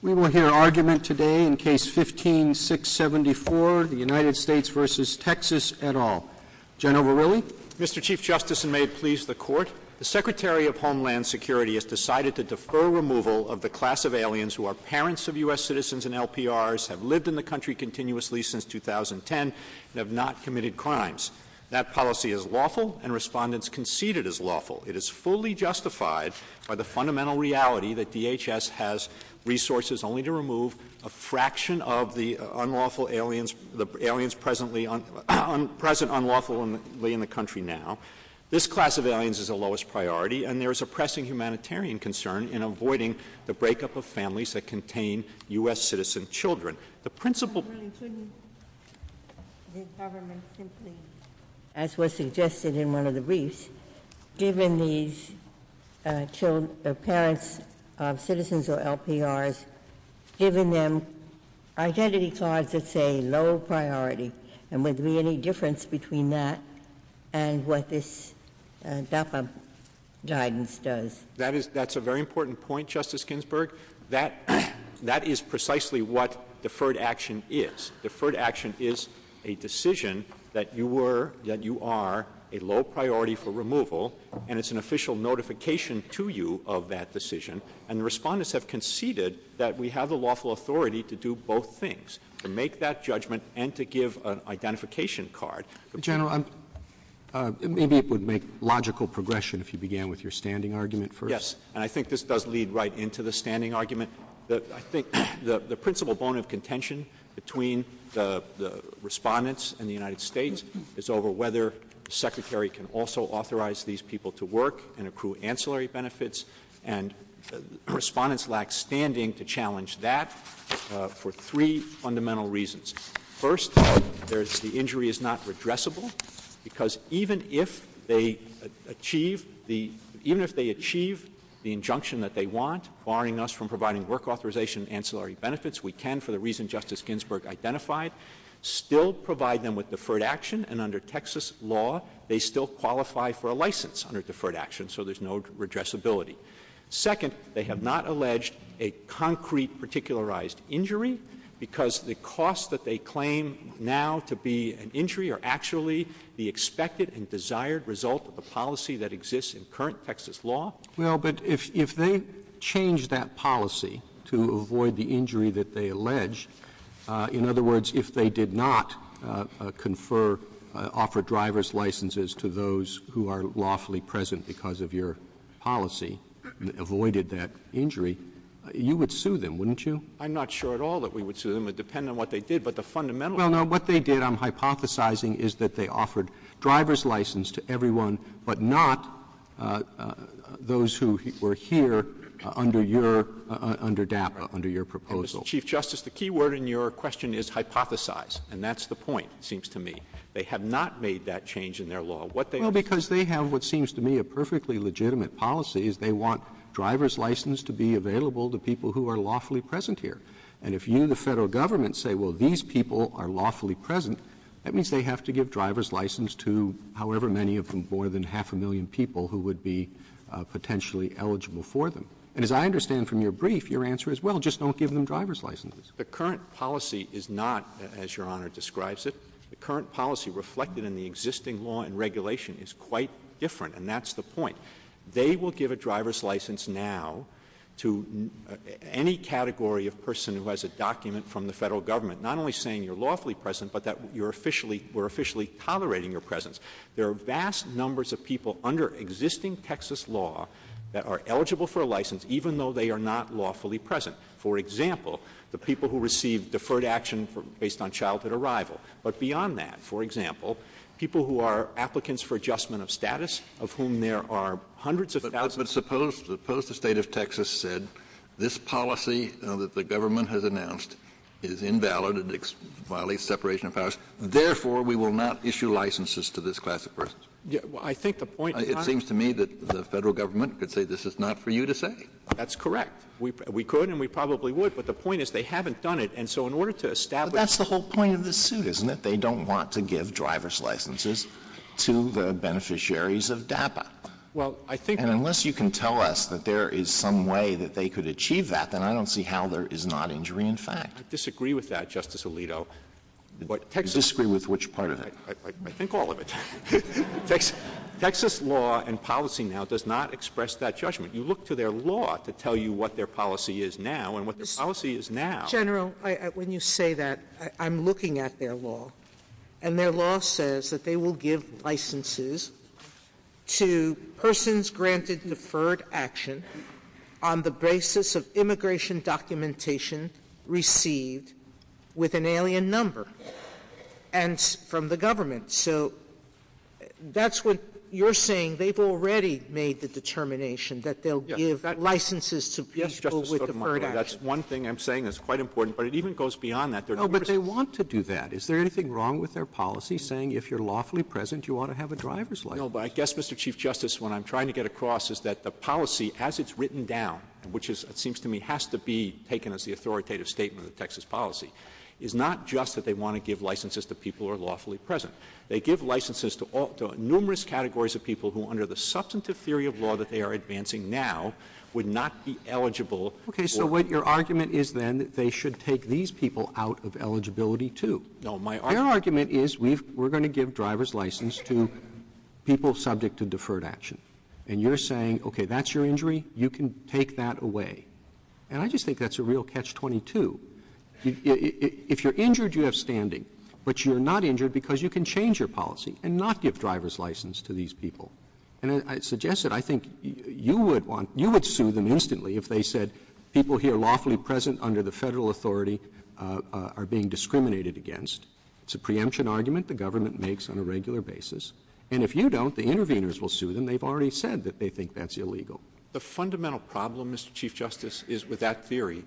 We will hear argument today in Case 15-674, the United States v. Texas et al. General Verrilli? Mr. Chief Justice, and may it please the Court, the Secretary of Homeland Security has decided to defer removal of the class of aliens who are parents of U.S. citizens and LPRs, have lived in the country continuously since 2010, and have not committed crimes. That policy is lawful, and respondents concede it is lawful. It is fully justified by the fundamental reality that DHS has resources only to remove a fraction of the aliens present unlawfully in the country now. This class of aliens is the lowest priority, and there is a pressing humanitarian concern in avoiding the breakup of families that contain U.S. citizen children. Mr. Verrilli, to whom? The government, simply. As was suggested in one of the briefs, given these parents of citizens or LPRs, given them identity cards that say low priority, and would there be any difference between that and what this DAPA guidance does? That's a very important point, Justice Ginsburg. That is precisely what deferred action is. Deferred action is a decision that you were, that you are, a low priority for removal, and it's an official notification to you of that decision. And respondents have conceded that we have the lawful authority to do both things, to make that judgment and to give an identification card. General, maybe it would make logical progression if you began with your standing argument first. Yes, and I think this does lead right into the standing argument. I think the principal bone of contention between the respondents and the United States is over whether the Secretary can also authorize these people to work and accrue ancillary benefits, and respondents lack standing to challenge that for three fundamental reasons. First, the injury is not redressable, because even if they achieve the injunction that they want, barring us from providing work authorization and ancillary benefits, we can, for the reason Justice Ginsburg identified, still provide them with deferred action, and under Texas law, they still qualify for a license under deferred action, so there's no redressability. Second, they have not alleged a concrete particularized injury, because the cost that they claim now to be an injury are actually the expected and desired result of a policy that exists in current Texas law. Well, but if they change that policy to avoid the injury that they allege, in other words, if they did not offer driver's licenses to those who are lawfully present because of your policy, avoided that injury, you would sue them, wouldn't you? I'm not sure at all that we would sue them. It would depend on what they did, but the fundamental— Well, no, what they did, I'm hypothesizing, is that they offered driver's license to everyone but not those who were here under DAPA, under your proposal. Chief Justice, the key word in your question is hypothesize, and that's the point, it seems to me. They have not made that change in their law. Well, because they have what seems to me a perfectly legitimate policy, is they want driver's license to be available to people who are lawfully present here. And if you, the federal government, say, well, these people are lawfully present, that means they have to give driver's license to however many of them, more than half a million people who would be potentially eligible for them. And as I understand from your brief, your answer is, well, just don't give them driver's licenses. The current policy is not as Your Honor describes it. The current policy reflected in the existing law and regulation is quite different, and that's the point. They will give a driver's license now to any category of person who has a document from the federal government, not only saying you're lawfully present but that we're officially tolerating your presence. There are vast numbers of people under existing Texas law that are eligible for a license, even though they are not lawfully present. For example, the people who receive deferred action based on childhood arrival. But beyond that, for example, people who are applicants for adjustment of status, of whom there are hundreds of thousands. But suppose the state of Texas said this policy that the government has announced is invalid, it violates separation of powers, therefore we will not issue licenses to this class of persons. I think the point. It seems to me that the federal government could say this is not for you to say. That's correct. We could and we probably would, but the point is they haven't done it, and so in order to establish. But that's the whole point of this suit, isn't it? They don't want to give driver's licenses to the beneficiaries of DAPA. Unless you can tell us that there is some way that they could achieve that, then I don't see how there is not injury in fact. I disagree with that, Justice Alito. You disagree with which part of it? I think all of it. Texas law and policy now does not express that judgment. You look to their law to tell you what their policy is now and what their policy is now. General, when you say that, I'm looking at their law, and their law says that they will give licenses to persons granted deferred action on the basis of immigration documentation received with an alien number and from the government. So that's what you're saying. They've already made the determination that they'll give licenses to people with deferred action. That's one thing I'm saying that's quite important, but it even goes beyond that. No, but they want to do that. Is there anything wrong with their policy saying if you're lawfully present, you ought to have a driver's license? No, but I guess, Mr. Chief Justice, what I'm trying to get across is that the policy, as it's written down, which seems to me has to be taken as the authoritative statement of Texas policy, is not just that they want to give licenses to people who are lawfully present. They give licenses to numerous categories of people who, under the substantive theory of law that they are advancing now, would not be eligible. Okay, so what your argument is then, they should take these people out of eligibility too. No, my argument is we're going to give driver's license to people subject to deferred action. And you're saying, okay, that's your injury. You can take that away. And I just think that's a real catch-22. If you're injured, you have standing. But you're not injured because you can change your policy and not give driver's license to these people. And I suggest that I think you would sue them instantly if they said people here lawfully present under the federal authority are being discriminated against. It's a preemption argument the government makes on a regular basis. And if you don't, the interveners will sue them. They've already said that they think that's illegal. The fundamental problem, Mr. Chief Justice, is with that theory,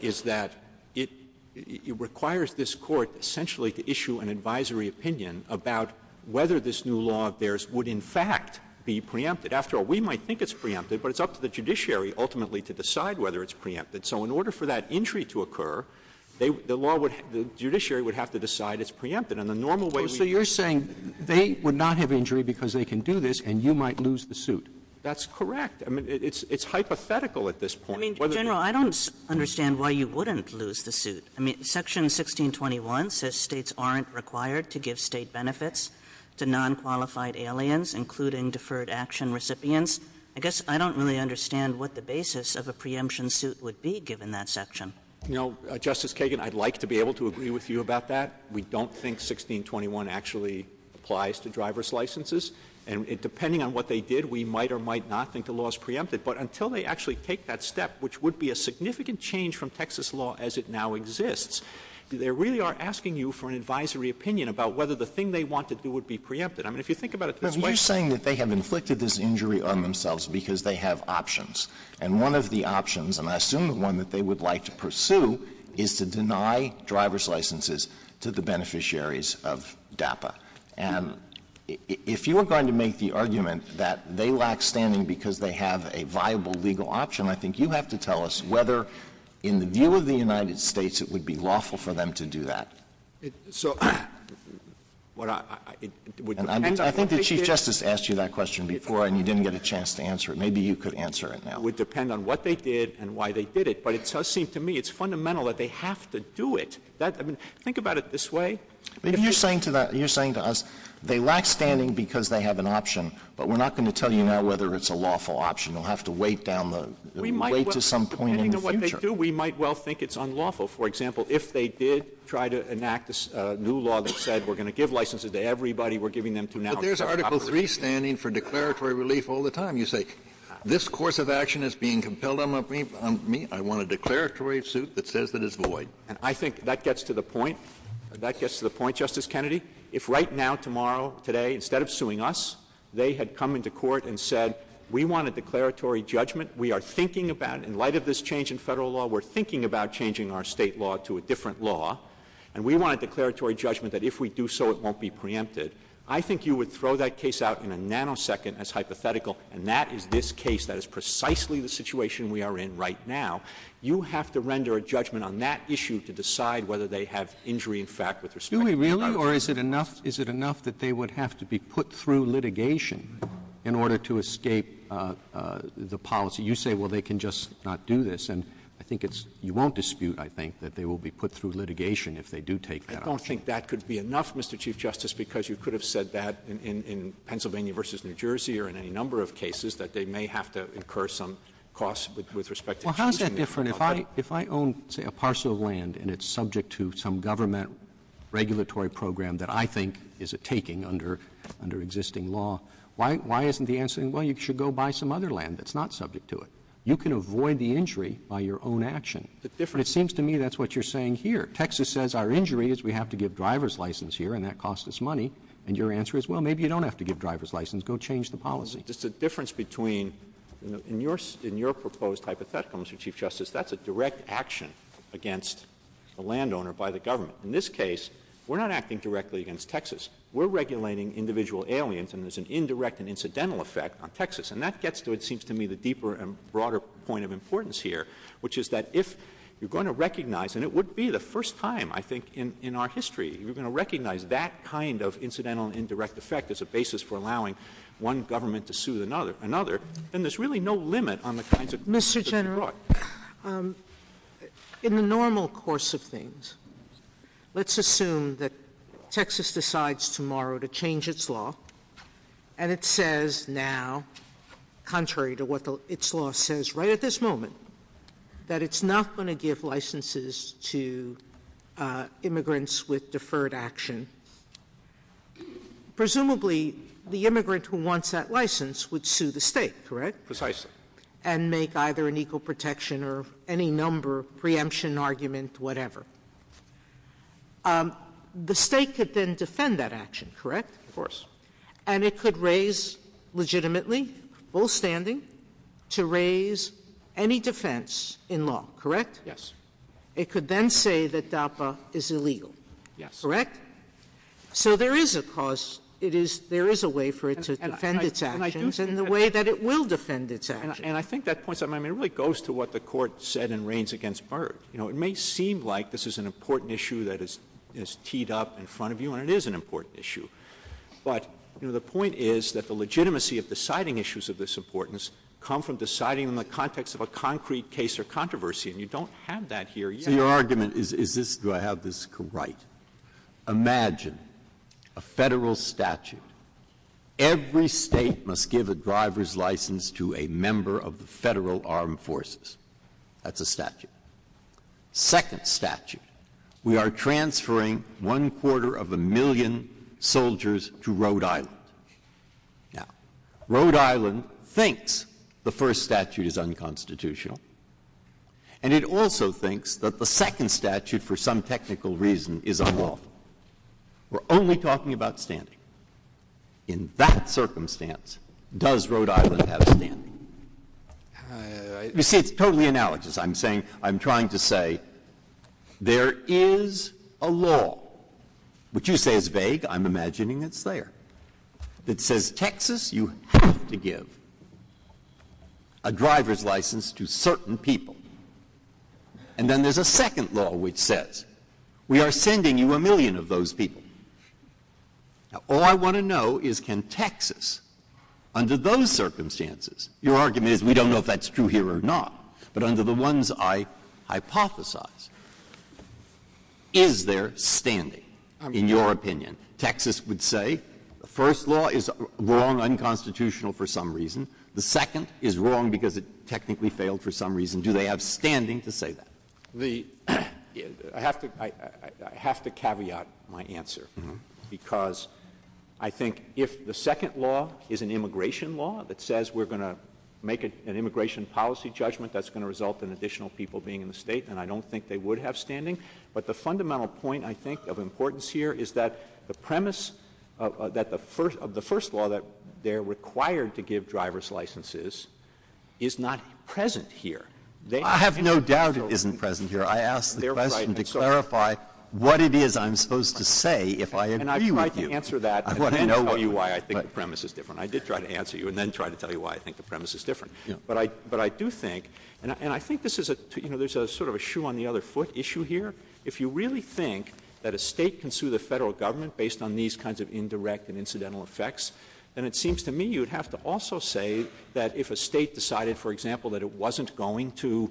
is that it requires this court essentially to issue an advisory opinion about whether this new law of theirs would in fact be preempted. After all, we might think it's preempted, but it's up to the judiciary ultimately to decide whether it's preempted. So in order for that injury to occur, the judiciary would have to decide it's preempted. So you're saying they would not have injury because they can do this and you might lose the suit. That's correct. I mean, it's hypothetical at this point. Section 1621 says states aren't required to give state benefits to nonqualified aliens, including deferred action recipients. I guess I don't really understand what the basis of a preemption suit would be given that section. Justice Kagan, I'd like to be able to agree with you about that. We don't think 1621 actually applies to driver's licenses. And depending on what they did, we might or might not think the law is preempted. But until they actually take that step, which would be a significant change from Texas law as it now exists, they really are asking you for an advisory opinion about whether the thing they want to do would be preempted. I mean, if you think about it this way. You're saying that they have inflicted this injury on themselves because they have options. And one of the options, and I assume the one that they would like to pursue, if you were going to make the argument that they lack standing because they have a viable legal option, I think you'd have to tell us whether, in the view of the United States, it would be lawful for them to do that. I think the Chief Justice asked you that question before, and you didn't get a chance to answer it. Maybe you could answer it now. It would depend on what they did and why they did it. But it does seem to me it's fundamental that they have to do it. Think about it this way. You're saying to us they lack standing because they have an option, but we're not going to tell you now whether it's a lawful option. We'll have to wait to some point in the future. Depending on what they do, we might well think it's unlawful. For example, if they did try to enact a new law that said we're going to give licenses to everybody, we're giving them to now to operate. But there's Article 3 standing for declaratory relief all the time. You say, this course of action is being compelled on me. I want a declaratory suit that says it is void. And I think that gets to the point. That gets to the point, Justice Kennedy. If right now, tomorrow, today, instead of suing us, they had come into court and said, we want a declaratory judgment, we are thinking about, in light of this change in federal law, we're thinking about changing our state law to a different law, and we want a declaratory judgment that if we do so it won't be preempted, I think you would throw that case out in a nanosecond as hypothetical, and that is this case. That is precisely the situation we are in right now. You have to render a judgment on that issue to decide whether they have injury, in fact, with respect to that. Really? Really? Or is it enough that they would have to be put through litigation in order to escape the policy? You say, well, they can just not do this. And I think it's you won't dispute, I think, that they will be put through litigation if they do take that up. I don't think that could be enough, Mr. Chief Justice, because you could have said that in Pennsylvania versus New Jersey or in any number of cases, Well, how is that different? If I own, say, a parcel of land, and it's subject to some government regulatory program that I think is a taking under existing law, why isn't the answer, well, you should go buy some other land that's not subject to it? You can avoid the injury by your own action. It seems to me that's what you're saying here. Texas says our injury is we have to give driver's license here, and that costs us money, and your answer is, well, maybe you don't have to give driver's license, go change the policy. Just the difference between, in your proposed hypothetical, Mr. Chief Justice, that's a direct action against a landowner by the government. In this case, we're not acting directly against Texas. We're regulating individual aliens, and there's an indirect and incidental effect on Texas. And that gets to, it seems to me, the deeper and broader point of importance here, which is that if you're going to recognize, and it would be the first time, I think, in our history, if you're going to recognize that kind of incidental and indirect effect as a basis for allowing one government to sue another, then there's really no limit on the kinds of things that you can do. Mr. General, in the normal course of things, let's assume that Texas decides tomorrow to change its law, and it says now, contrary to what its law says right at this moment, that it's not going to give licenses to immigrants with deferred action. Presumably, the immigrant who wants that license would sue the state, correct? Precisely. And make either an equal protection or any number, preemption, argument, whatever. The state could then defend that action, correct? Of course. And it could raise legitimately, all standing, to raise any defense in law, correct? Yes. It could then say that DAPA is illegal, correct? Yes. So there is a cause. There is a way for it to defend its actions in the way that it will defend its actions. And I think that points out, I mean, it really goes to what the Court said in Reins against Burr. You know, it may seem like this is an important issue that is teed up in front of you, and it is an important issue. But, you know, the point is that the legitimacy of deciding issues of this importance come from deciding in the context of a concrete case or controversy, and you don't have that here yet. Your argument is this, do I have this right? Imagine a federal statute. Every state must give a driver's license to a member of the Federal Armed Forces. That's a statute. Second statute, we are transferring one quarter of a million soldiers to Rhode Island. Now, Rhode Island thinks the first statute is unconstitutional, and it also thinks that the second statute, for some technical reason, is unlawful. We're only talking about standing. In that circumstance, does Rhode Island have standing? You see, it's totally analogous. I'm trying to say there is a law, which you say is vague. I'm imagining it's there. It says Texas, you have to give a driver's license to certain people. And then there's a second law which says we are sending you a million of those people. Now, all I want to know is can Texas, under those circumstances, your argument is we don't know if that's true here or not, but under the ones I hypothesize, is there standing, in your opinion? Texas would say the first law is wrong, unconstitutional for some reason. The second is wrong because it technically failed for some reason. Do they have standing to say that? I have to caveat my answer because I think if the second law is an immigration law that says we're going to make an immigration policy judgment, that's going to result in additional people being in the state, then I don't think they would have standing. But the fundamental point, I think, of importance here is that the premise of the first law that they're required to give driver's licenses is not present here. I have no doubt it isn't present here. I asked the question to clarify what it is I'm supposed to say if I agree with you. And I tried to answer that and then tell you why I think the premise is different. I did try to answer you and then try to tell you why I think the premise is different. But I do think, and I think there's sort of a shoe on the other foot issue here. If you really think that a state can sue the federal government based on these kinds of indirect and incidental effects, then it seems to me you'd have to also say that if a state decided, for example, that it wasn't going to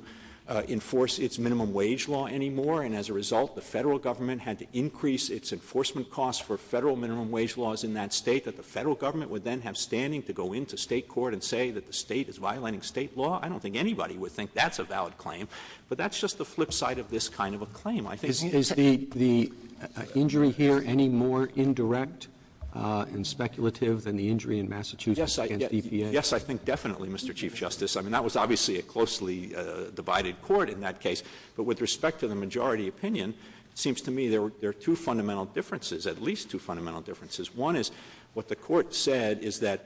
enforce its minimum wage law anymore and as a result the federal government had to increase its enforcement costs for federal minimum wage laws in that state, that the federal government would then have standing to go into state court and say that the state is violating state law. I don't think anybody would think that's a valid claim. But that's just the flip side of this kind of a claim. Is the injury here any more indirect and speculative than the injury in Massachusetts against EPA? Yes, I think definitely, Mr. Chief Justice. I mean, that was obviously a closely divided court in that case. But with respect to the majority opinion, it seems to me there are two fundamental differences, at least two fundamental differences. One is what the court said is that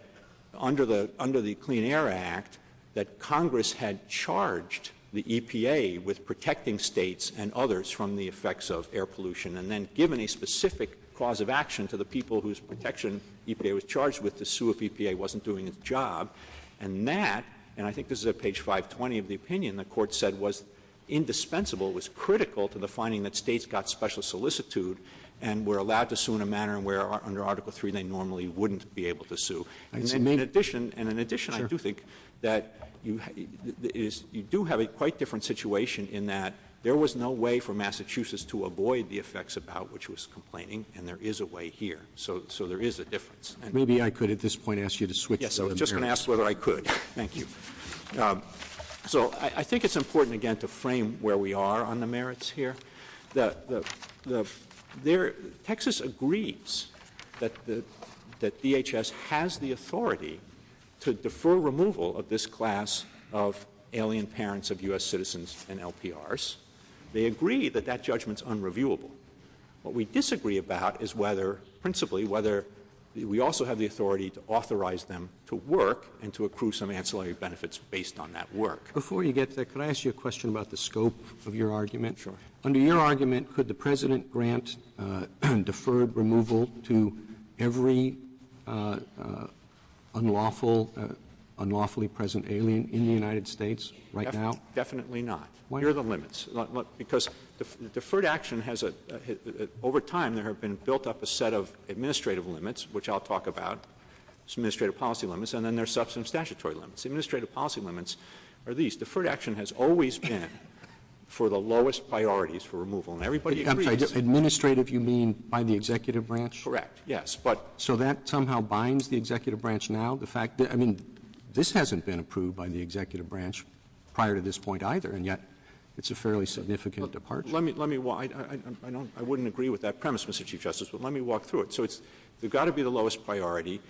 under the Clean Air Act that Congress had charged the EPA with protecting states and others from the effects of air pollution and then given a specific cause of action to the people whose protection EPA was charged with to sue if EPA wasn't doing its job. And that, and I think this is at page 520 of the opinion, the court said was indispensable, was critical to the finding that states got special solicitude and were allowed to sue in a manner where under Article III they normally wouldn't be able to sue. And in addition, I do think that you do have a quite different situation in that there was no way for Massachusetts to avoid the effects about which was complaining, and there is a way here. So there is a difference. Maybe I could at this point ask you to switch. Yes, I was just going to ask whether I could. Thank you. So I think it's important, again, to frame where we are on the merits here. Texas agrees that DHS has the authority to defer removal of this class of alien parents of U.S. citizens and LPRs. They agree that that judgment is unreviewable. What we disagree about is whether, principally, whether we also have the authority to authorize them to work and to accrue some ancillary benefits based on that work. Before you get to that, could I ask you a question about the scope of your argument? Sure. Under your argument, could the President grant deferred removal to every unlawfully present alien in the United States right now? Definitely not. Why? Here are the limits. Because deferred action has, over time, there have been built up a set of administrative limits, which I'll talk about, some administrative policy limits, and then there are substantive statutory limits. Administrative policy limits are these. Deferred action has always been for the lowest priorities for removal, and everybody agrees. Administrative, you mean by the executive branch? Correct, yes. So that somehow binds the executive branch now? I mean, this hasn't been approved by the executive branch prior to this point either, and yet it's a fairly significant departure. I wouldn't agree with that premise, Mr. Chief Justice, but let me walk through it. So you've got to be the lowest priority.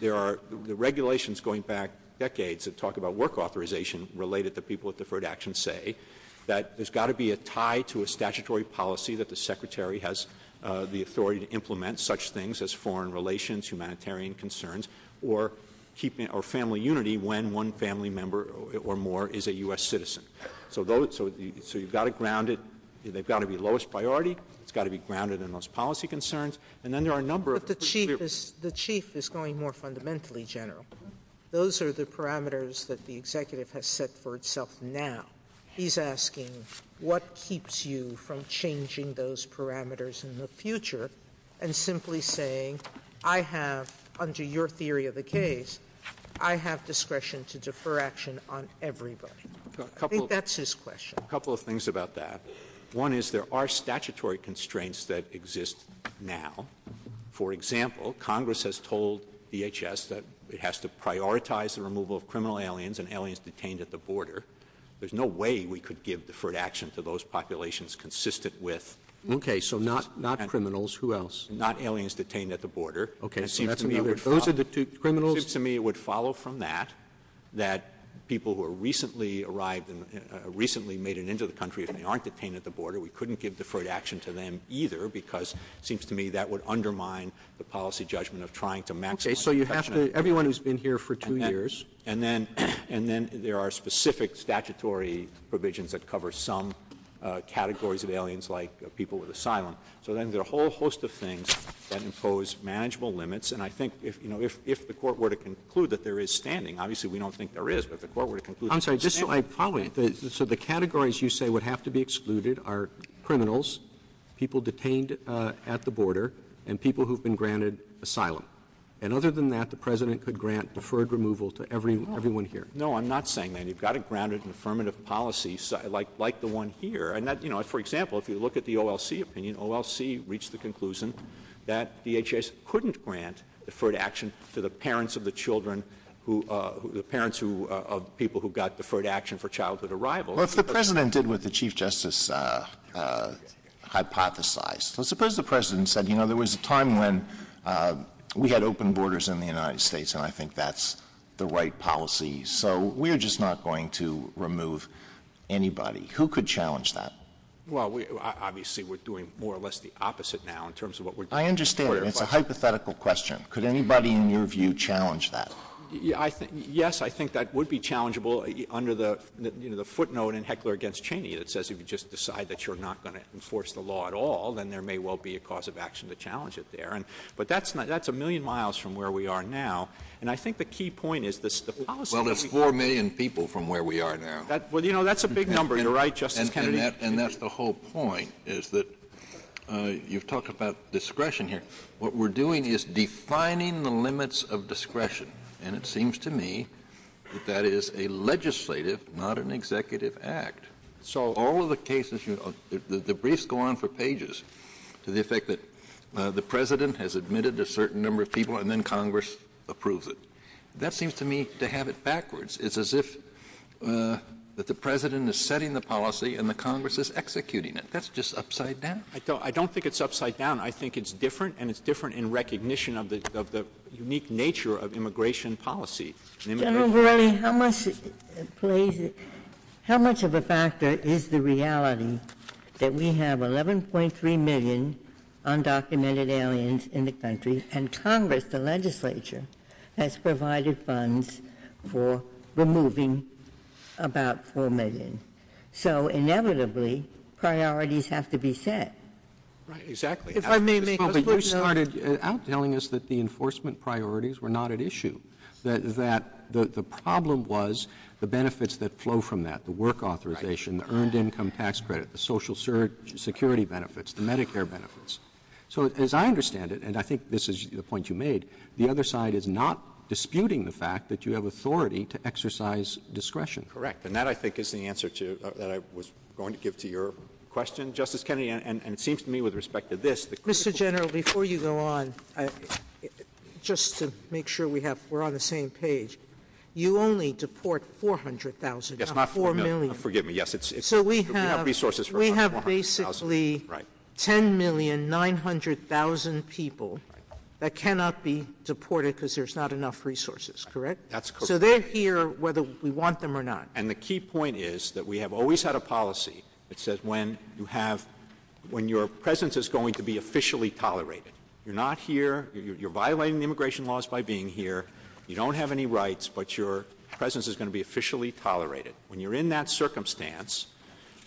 There are regulations going back decades that talk about work authorization related to people with deferred action say that there's got to be a tie to a statutory policy that the Secretary has the authority to implement such things as foreign relations, humanitarian concerns, or family unity when one family member or more is a U.S. citizen. So you've got to ground it. They've got to be lowest priority. It's got to be grounded in those policy concerns, and then there are a number of... But the Chief is going more fundamentally, General. Those are the parameters that the executive has set for itself now. He's asking what keeps you from changing those parameters in the future and simply saying I have, under your theory of the case, I have discretion to defer action on everybody. I think that's his question. A couple of things about that. One is there are statutory constraints that exist now. For example, Congress has told DHS that it has to prioritize the removal of criminal aliens and aliens detained at the border. There's no way we could give deferred action to those populations consistent with... Okay, so not criminals. Who else? Not aliens detained at the border. Okay, so those are the two criminals? It seems to me it would follow from that that people who recently arrived and recently made it into the country, if they aren't detained at the border, we couldn't give deferred action to them either because it seems to me that would undermine the policy judgment of trying to maximize... Okay, so everyone who's been here for two years... And then there are specific statutory provisions that cover some categories of aliens like people with asylum. So then there are a whole host of things that impose manageable limits, and I think if the court were to conclude that there is standing, obviously we don't think there is, but the court were to conclude... I'm sorry. So the categories you say would have to be excluded are criminals, people detained at the border, and people who've been granted asylum. And other than that, the president could grant deferred removal to everyone here. No, I'm not saying that. You've got to grant an affirmative policy like the one here. For example, if you look at the OLC opinion, the OLC reached the conclusion that DHS couldn't grant deferred action to the parents of the children, the parents of people who got deferred action for childhood arrival. Well, if the president did what the Chief Justice hypothesized, let's suppose the president said, you know, there was a time when we had open borders in the United States, and I think that's the right policy, so we're just not going to remove anybody. Who could challenge that? Well, obviously we're doing more or less the opposite now in terms of what we're doing. I understand. It's a hypothetical question. Could anybody in your view challenge that? Yes, I think that would be challengeable under the footnote in Heckler against Cheney that says if you just decide that you're not going to enforce the law at all, then there may well be a cause of action to challenge it there. But that's a million miles from where we are now, and I think the key point is the policy... Well, that's 4 million people from where we are now. Well, you know, that's a big number. You're right, Justice Kennedy. And that's the whole point is that you've talked about discretion here. What we're doing is defining the limits of discretion, and it seems to me that that is a legislative, not an executive, act. So all of the cases, the briefs go on for pages, to the effect that the president has admitted a certain number of people and then Congress approves it. That seems to me to have it backwards. It's as if the president is setting the policy and the Congress is executing it. That's just upside down. I don't think it's upside down. I think it's different, and it's different in recognition of the unique nature of immigration policy. General Verrilli, how much of a factor is the reality that we have 11.3 million undocumented aliens in the country and Congress, the legislature, has provided funds for removing about 4 million? So inevitably, priorities have to be set. Right, exactly. You started out telling us that the enforcement priorities were not at issue, that the problem was the benefits that flow from that, the work authorization, the earned income tax credit, the Social Security benefits, the Medicare benefits. So as I understand it, and I think this is the point you made, the other side is not disputing the fact that you have authority to exercise discretion. Correct, and that, I think, is the answer that I was going to give to your question, Justice Kennedy, and it seems to me with respect to this. Mr. General, before you go on, just to make sure we're on the same page, you only deport 400,000, not 4 million. Forgive me, yes. So we have basically 10,900,000 people that cannot be deported because there's not enough resources, correct? That's correct. So they're here whether we want them or not. And the key point is that we have always had a policy that says when your presence is going to be officially tolerated, you're not here, you're violating immigration laws by being here, you don't have any rights, but your presence is going to be officially tolerated. When you're in that circumstance,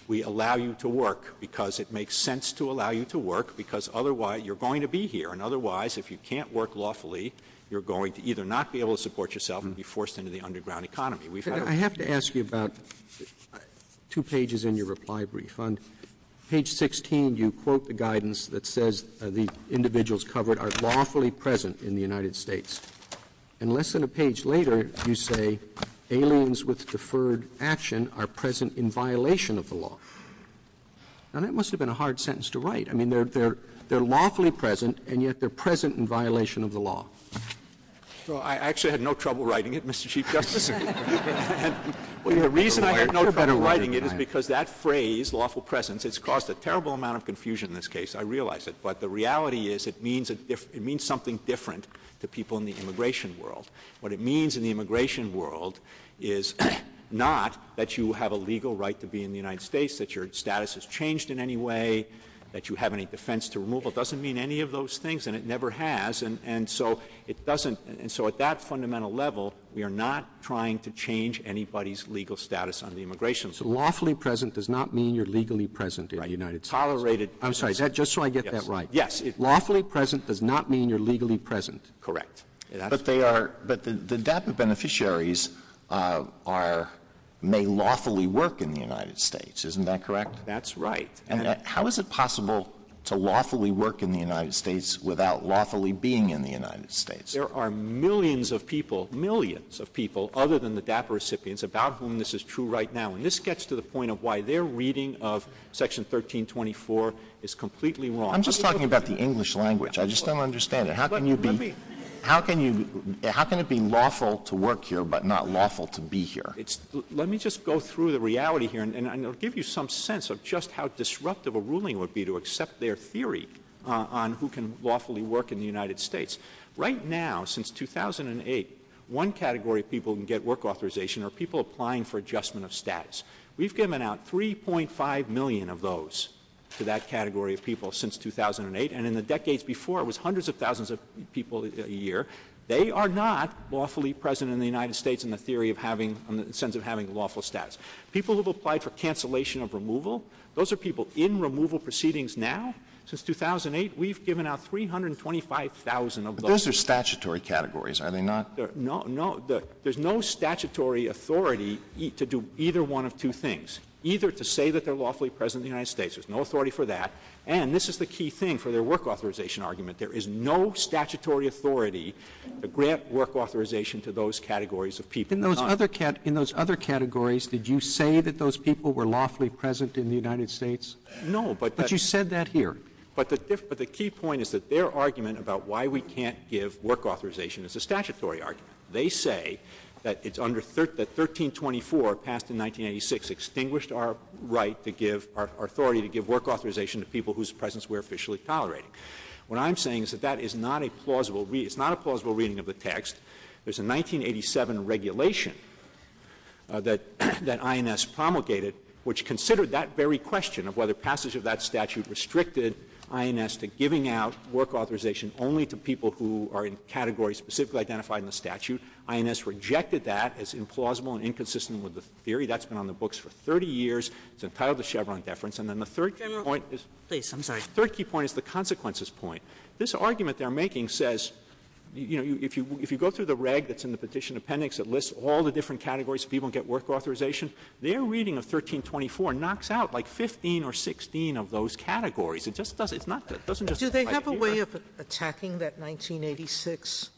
we allow you to work because it makes sense to allow you to work because otherwise you're going to be here, and otherwise, if you can't work lawfully, you're going to either not be able to support yourself and be forced into the underground economy. I have to ask you about two pages in your reply brief. On page 16, you quote the guidance that says the individuals covered are lawfully present in the United States, and less than a page later, you say aliens with deferred action are present in violation of the law. Now, that must have been a hard sentence to write. I mean, they're lawfully present, and yet they're present in violation of the law. Well, I actually had no trouble writing it, Mr. Chief Justice. The reason I had no trouble writing it is because that phrase, lawful presence, has caused a terrible amount of confusion in this case, I realize it, but the reality is it means something different to people in the immigration world. What it means in the immigration world is not that you have a legal right to be in the United States, that your status has changed in any way, that you have any defense to removal. It doesn't mean any of those things, and it never has, and so it doesn't. And so at that fundamental level, we are not trying to change anybody's legal status under the immigration law. Lawfully present does not mean you're legally present in the United States. I'm sorry, just so I get that right. Yes. Lawfully present does not mean you're legally present. Correct. But the DAPA beneficiaries may lawfully work in the United States. Isn't that correct? That's right. How is it possible to lawfully work in the United States without lawfully being in the United States? There are millions of people, millions of people, other than the DAPA recipients about whom this is true right now, and this gets to the point of why their reading of Section 1324 is completely wrong. I'm just talking about the English language. I just don't understand it. How can it be lawful to work here but not lawful to be here? Let me just go through the reality here, and I'll give you some sense of just how disruptive a ruling would be to accept their theory on who can lawfully work in the United States. Right now, since 2008, one category of people who can get work authorization are people applying for adjustment of status. We've given out 3.5 million of those to that category of people since 2008, and in the decades before, it was hundreds of thousands of people a year. They are not lawfully present in the United States in the sense of having lawful status. People who have applied for cancellation of removal, those are people in removal proceedings now. Since 2008, we've given out 325,000 of those. But those are statutory categories, are they not? No, there's no statutory authority to do either one of two things, either to say that they're lawfully present in the United States. There's no authority for that, and this is the key thing for their work authorization argument. There is no statutory authority to grant work authorization to those categories of people. In those other categories, did you say that those people were lawfully present in the United States? No, but you said that here. But the key point is that their argument about why we can't give work authorization is a statutory argument. They say that 1324 passed in 1986 extinguished our right to give, our authority to give work authorization to people whose presence we're officially tolerating. What I'm saying is that that is not a plausible reading of the text. There's a 1987 regulation that INS promulgated which considered that very question of whether passage of that statute restricted INS to giving out work authorization only to people who are in categories specifically identified in the statute. INS rejected that as implausible and inconsistent with the theory. That's been on the books for 30 years. It's entitled The Chevron Deference. And then the third key point is the consequences point. This argument they're making says, you know, if you go through the reg that's in the petition appendix that lists all the different categories of people who get work authorization, their reading of 1324 knocks out like 15 or 16 of those categories. It just doesn't. It's not that. It doesn't just apply here. Do they have a way of attacking that 1986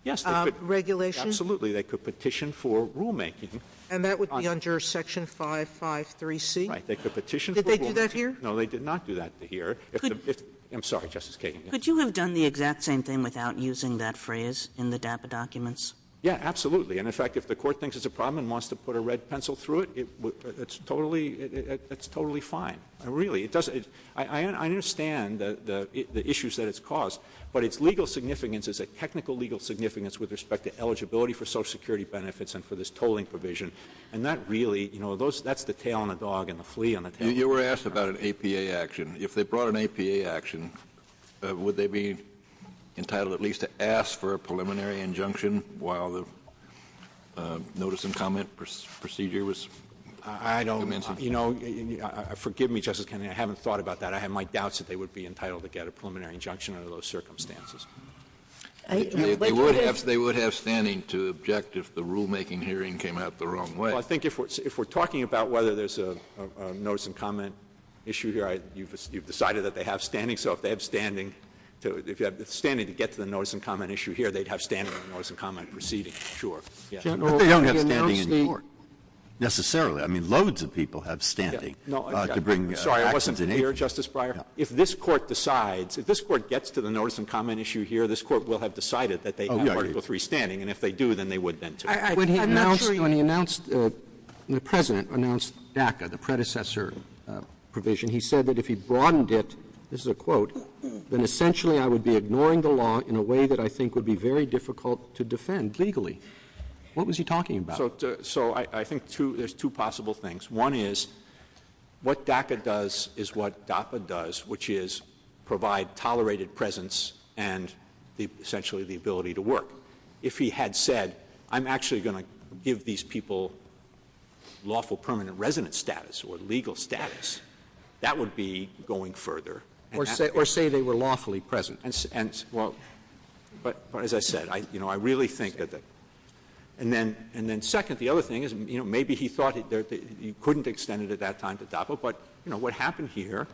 regulation? Yes, absolutely. They could petition for rulemaking. And that would be under Section 553C? Right. They could petition for rulemaking. Did they do that here? No, they did not do that here. I'm sorry, Justice Kagan. Could you have done the exact same thing without using that phrase in the DAPA documents? Yeah, absolutely. And, in fact, if the court thinks it's a problem and wants to put a red pencil through it, it's totally fine. Really. I understand the issues that it's caused. But its legal significance is a technical legal significance with respect to eligibility for Social Security benefits and for this tolling provision. And that really, you know, that's the tail on the dog and the flea on the tail. You were asked about an APA action. If they brought an APA action, would they be entitled at least to ask for a preliminary injunction while the notice and comment procedure was in place? I don't, you know, forgive me, Justice Kennedy. I haven't thought about that. I have my doubts that they would be entitled to get a preliminary injunction under those circumstances. They would have standing to object if the rulemaking hearing came out the wrong way. Well, I think if we're talking about whether there's a notice and comment issue here, you've decided that they have standing. So if they have standing to get to the notice and comment issue here, they'd have standing on the notice and comment proceeding. Sure. But they don't have standing in court. Necessarily. I mean, loads of people have standing. Sorry, I wasn't clear, Justice Breyer. If this Court decides, if this Court gets to the notice and comment issue here, this Court will have decided that they have Article III standing. And if they do, then they would then, too. I'm not sure when he announced, when the President announced DACA, the predecessor provision, he said that if he broadened it, this is a quote, then essentially I would be ignoring the law in a way that I think would be very difficult to defend legally. What was he talking about? So I think there's two possible things. One is what DACA does is what DAPA does, which is provide tolerated presence and essentially the ability to work. If he had said, I'm actually going to give these people lawful permanent resident status or legal status, that would be going further. Or say they were lawfully present. Well, as I said, I really think that. And then second, the other thing is maybe he thought he couldn't extend it at that time to DACA, but what happened here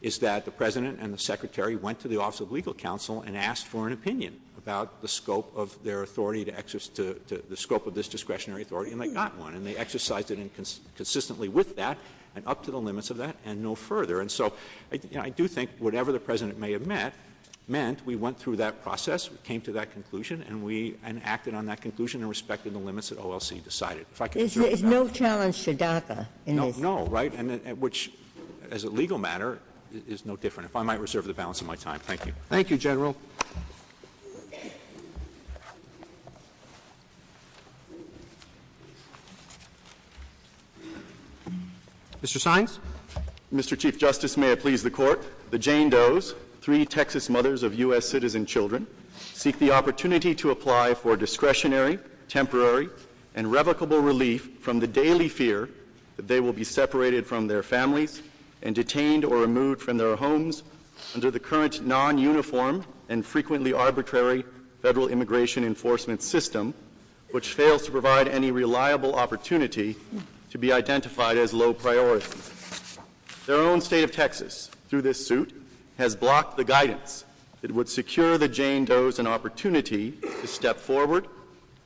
is that the President and the Secretary went to the Office of Legal Counsel and asked for an opinion about the scope of their authority, the scope of this discretionary authority, and they got one. And they exercised it consistently with that and up to the limits of that and no further. And so I do think whatever the President may have meant, we went through that process, came to that conclusion, and acted on that conclusion in respect to the limits that OLC decided. There's no challenge to DACA. No, right, which as a legal matter is no different. If I might reserve the balance of my time. Thank you. Thank you, General. Mr. Sines. Mr. Chief Justice, may it please the Court, the Jane Does, three Texas mothers of U.S. citizen children, seek the opportunity to apply for discretionary, temporary, and revocable relief from the daily fear that they will be separated from their families and detained or removed from their homes under the current non-uniform and frequently arbitrary federal immigration enforcement system, which fails to provide any reliable opportunity to be identified as low priority. Their own state of Texas, through this suit, has blocked the guidance that would secure the Jane Does an opportunity to step forward,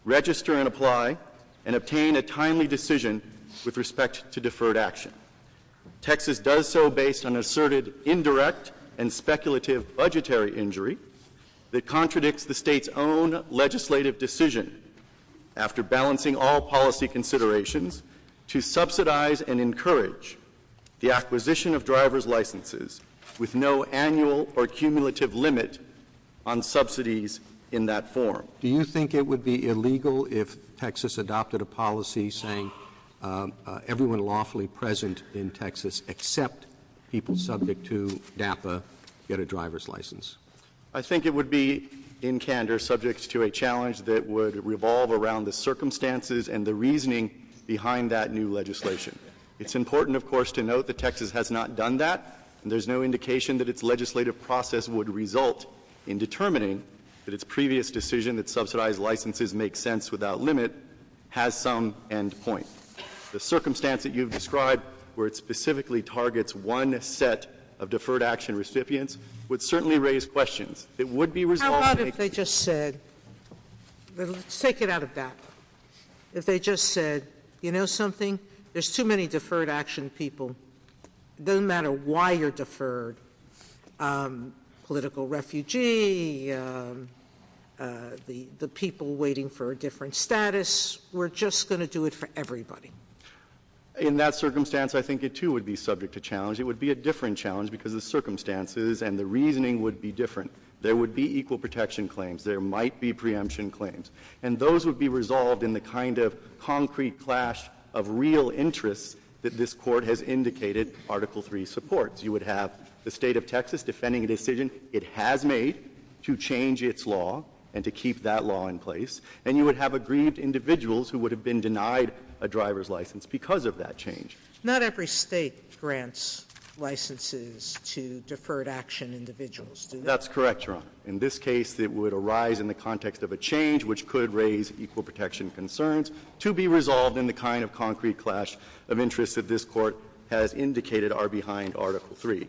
register and apply, and obtain a timely decision with respect to deferred action. Texas does so based on asserted indirect and speculative budgetary injury that contradicts the state's own legislative decision, after balancing all policy considerations, to subsidize and encourage the acquisition of driver's licenses with no annual or cumulative limit on subsidies in that form. Do you think it would be illegal if Texas adopted a policy saying everyone lawfully present in Texas except people subject to DAPA get a driver's license? I think it would be, in candor, subject to a challenge that would revolve around the circumstances and the reasoning behind that new legislation. It's important, of course, to note that Texas has not done that, and there's no indication that its legislative process would result in determining that its previous decision that subsidized licenses make sense without limit has some end point. The circumstance that you've described, where it specifically targets one set of deferred action recipients, would certainly raise questions. How about if they just said, let's take it out of DAPA, if they just said, you know something, there's too many deferred action people, it doesn't matter why you're deferred, political refugee, the people waiting for a different status, we're just going to do it for everybody. In that circumstance, I think it too would be subject to challenge. It would be a different challenge because the circumstances and the reasoning would be different. There would be equal protection claims. There might be preemption claims. And those would be resolved in the kind of concrete clash of real interest that this Court has indicated Article III supports. You would have the state of Texas defending a decision it has made to change its law and to keep that law in place, and you would have agreed individuals who would have been denied a driver's license because of that change. Not every state grants licenses to deferred action individuals, do they? That's correct, Your Honor. In this case, it would arise in the context of a change which could raise equal protection concerns to be resolved in the kind of concrete clash of interest that this Court has indicated are behind Article III.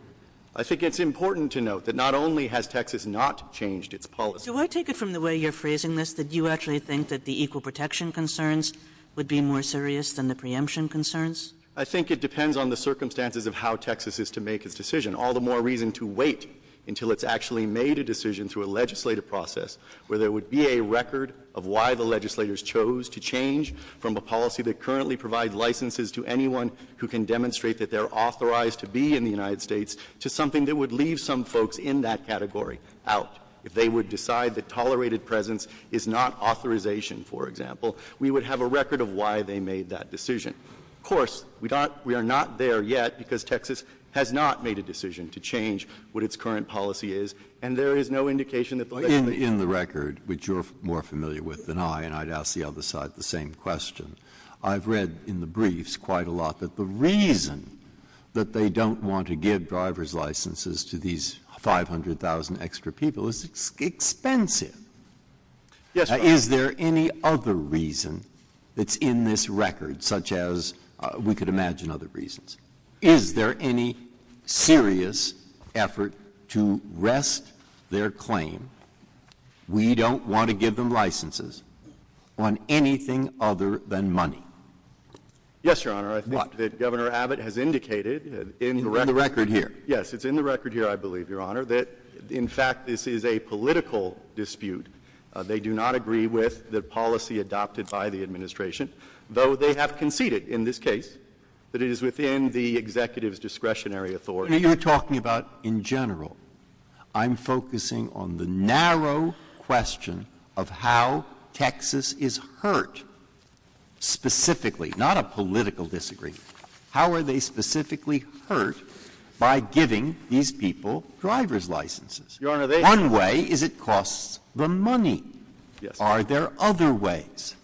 I think it's important to note that not only has Texas not changed its policy. Do I take it from the way you're phrasing this that you actually think that the equal protection concerns would be more serious than the preemption concerns? I think it depends on the circumstances of how Texas is to make its decision. All the more reason to wait until it's actually made a decision through a legislative process where there would be a record of why the legislators chose to change from a policy that currently provides licenses to anyone who can demonstrate that they're authorized to be in the United States to something that would leave some folks in that category out. If they would decide that tolerated presence is not authorization, for example, we would have a record of why they made that decision. Of course, we are not there yet because Texas has not made a decision to change what its current policy is, and there is no indication that the legislation... In the record, which you're more familiar with than I, and I'd ask the other side the same question, I've read in the briefs quite a lot that the reason that they don't want to give driver's licenses to these 500,000 extra people is it's expensive. Yes, Your Honor. Is there any other reason that's in this record such as we could imagine other reasons? Is there any serious effort to rest their claim, we don't want to give them licenses, on anything other than money? Yes, Your Honor. What? I think that Governor Abbott has indicated in the record... In the record here? Yes, it's in the record here, I believe, Your Honor, that in fact this is a political dispute. They do not agree with the policy adopted by the administration, though they have conceded in this case that it is within the executive's discretionary authority. You're talking about in general. I'm focusing on the narrow question of how Texas is hurt specifically, not a political disagreement. How are they specifically hurt by giving these people driver's licenses? Your Honor, they... One way is it costs them money. Yes. Are there other ways?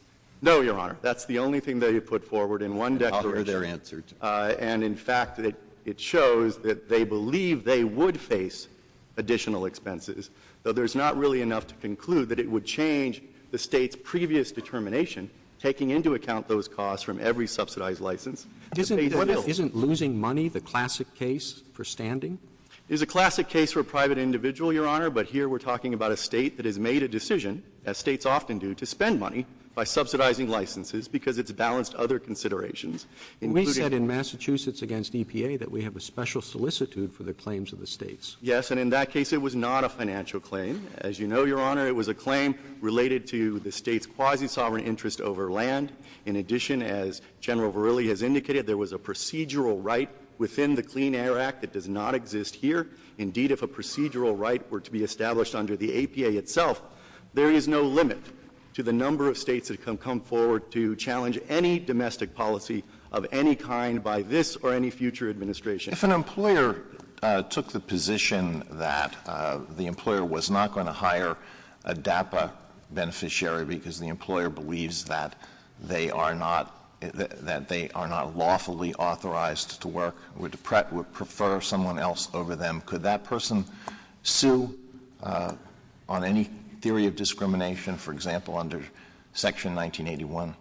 No, Your Honor. That's the only thing that he put forward in one declaration. And in fact it shows that they believe they would face additional expenses, though there's not really enough to conclude that it would change the state's previous determination taking into account those costs from every subsidized license. Isn't losing money the classic case for standing? It is a classic case for a private individual, Your Honor, but here we're talking about a state that has made a decision, as states often do, to spend money by subsidizing licenses because it's balanced other considerations. We said in Massachusetts against EPA that we have a special solicitude for the claims of the states. Yes, and in that case it was not a financial claim. As you know, Your Honor, it was a claim related to the state's quasi-sovereign interest over land. In addition, as General Verrilli has indicated, there was a procedural right within the Clean Air Act that does not exist here. Indeed, if a procedural right were to be established under the APA itself, there is no limit to the number of states that can come forward to challenge any domestic policy of any kind by this or any future administration. If an employer took the position that the employer was not going to hire a DAPA beneficiary because the employer believes that they are not lawfully authorized to work, would prefer someone else over them, could that person sue on any theory of discrimination, for example, under Section 1981?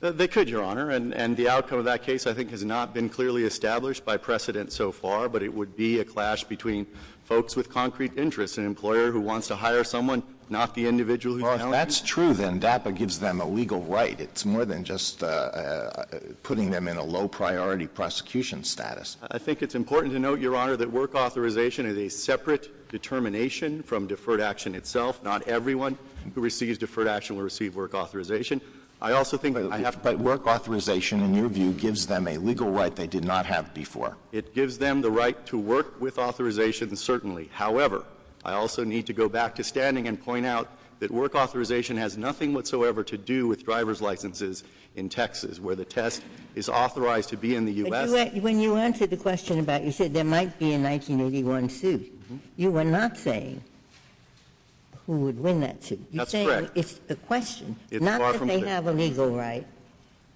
They could, Your Honor, and the outcome of that case, I think, has not been clearly established by precedent so far, but it would be a clash between folks with concrete interests, an employer who wants to hire someone, not the individual who found them. Well, if that's true, then DAPA gives them a legal right. It's more than just putting them in a low-priority prosecution status. I think it's important to note, Your Honor, that work authorization is a separate determination from deferred action itself. Not everyone who receives deferred action will receive work authorization. I also think that work authorization, in your view, gives them a legal right they did not have before. It gives them the right to work with authorization, certainly. However, I also need to go back to standing and point out that work authorization has nothing whatsoever to do with driver's licenses in Texas, where the test is authorized to be in the U.S. But when you answered the question about you said there might be a 1981 suit, you were not saying who would win that suit. That's correct. You're saying it's a question. It's far from clear. Not that they have a legal right,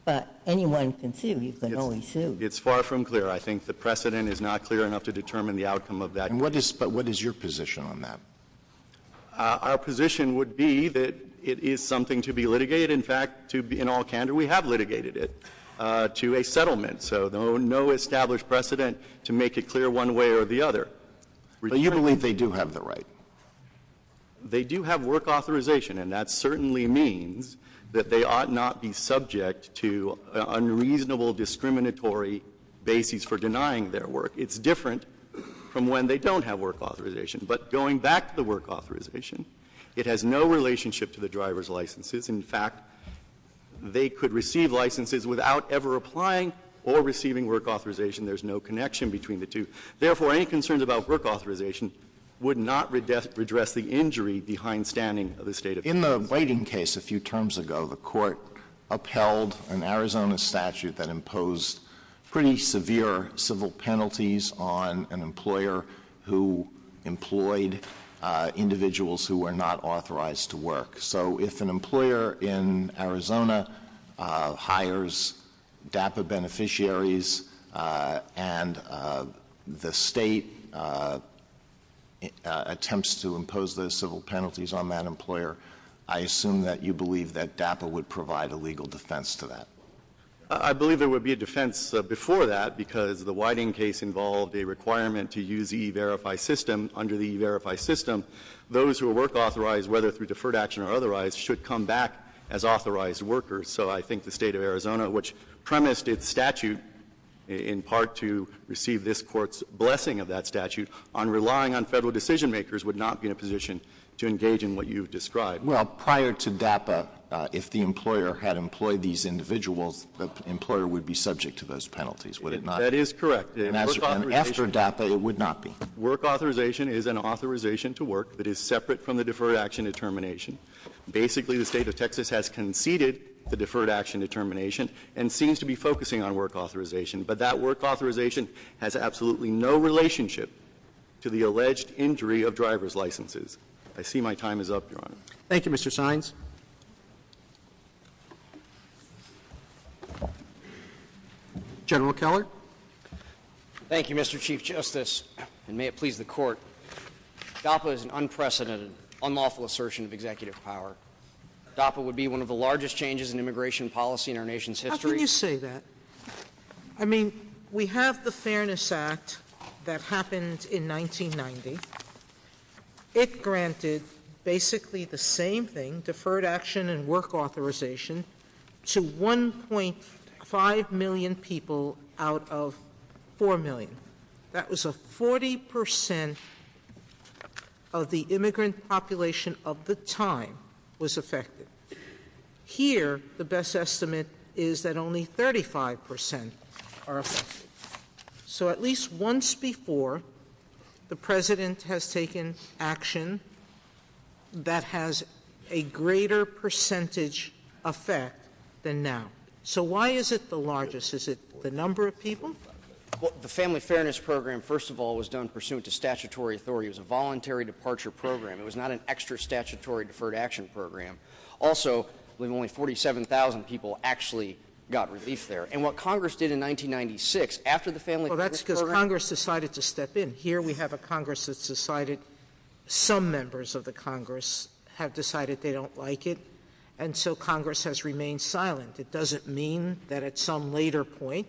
but anyone can sue. You can always sue. It's far from clear. I think the precedent is not clear enough to determine the outcome of that. But what is your position on that? Our position would be that it is something to be litigated. In fact, in all candor, we have litigated it to a settlement. So no established precedent to make it clear one way or the other. But you believe they do have the right? They do have work authorization, and that certainly means that they ought not be subject to unreasonable discriminatory bases for denying their work. It's different from when they don't have work authorization. But going back to the work authorization, it has no relationship to the driver's licenses. In fact, they could receive licenses without ever applying or receiving work authorization. There's no connection between the two. Therefore, any concerns about work authorization would not redress the injury behindstanding of the state of Texas. on an employer who employed individuals who were not authorized to work. So if an employer in Arizona hires DAPA beneficiaries and the state attempts to impose those civil penalties on that employer, I assume that you believe that DAPA would provide a legal defense to that. I believe there would be a defense before that because the Whiting case involved a requirement to use the E-Verify system. Under the E-Verify system, those who are work authorized, whether through deferred action or otherwise, should come back as authorized workers. So I think the state of Arizona, which premised its statute, in part to receive this Court's blessing of that statute, on relying on federal decision-makers would not be in a position to engage in what you've described. Well, prior to DAPA, if the employer had employed these individuals, the employer would be subject to those penalties, would it not? That is correct. After DAPA, it would not be. Work authorization is an authorization to work that is separate from the deferred action determination. Basically, the state of Texas has conceded the deferred action determination and seems to be focusing on work authorization, but that work authorization has absolutely no relationship to the alleged injury of driver's licenses. I see my time is up, Your Honor. Thank you, Mr. Sines. General Keller. Thank you, Mr. Chief Justice, and may it please the Court. DAPA is an unprecedented, unlawful assertion of executive power. DAPA would be one of the largest changes in immigration policy in our nation's history. How can you say that? I mean, we have the Fairness Act that happened in 1990. It granted basically the same thing, deferred action and work authorization, to 1.5 million people out of 4 million. That was 40% of the immigrant population of the time was affected. Here, the best estimate is that only 35% are affected. So at least once before, the President has taken action that has a greater percentage effect than now. So why is it the largest? Is it the number of people? The Family Fairness Program, first of all, was done pursuant to statutory authority. It was a voluntary departure program. It was not an extra statutory deferred action program. Also, only 47,000 people actually got relief there. And what Congress did in 1996, after the Family Fairness Program— Well, that's because Congress decided to step in. Here we have a Congress that's decided—some members of the Congress have decided they don't like it. And so Congress has remained silent. It doesn't mean that at some later point,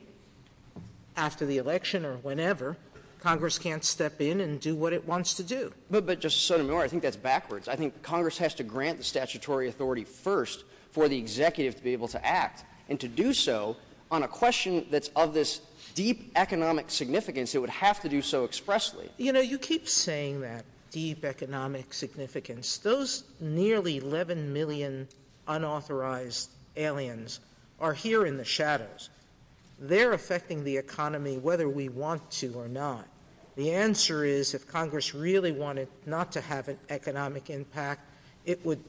after the election or whenever, Congress can't step in and do what it wants to do. But, Justice Sotomayor, I think that's backwards. I think Congress has to grant the statutory authority first for the executive to be able to act. And to do so on a question that's of this deep economic significance, it would have to do so expressly. You know, you keep saying that, deep economic significance. Those nearly 11 million unauthorized aliens are here in the shadows. They're affecting the economy whether we want to or not. The answer is, if Congress really wanted not to have an economic impact, it would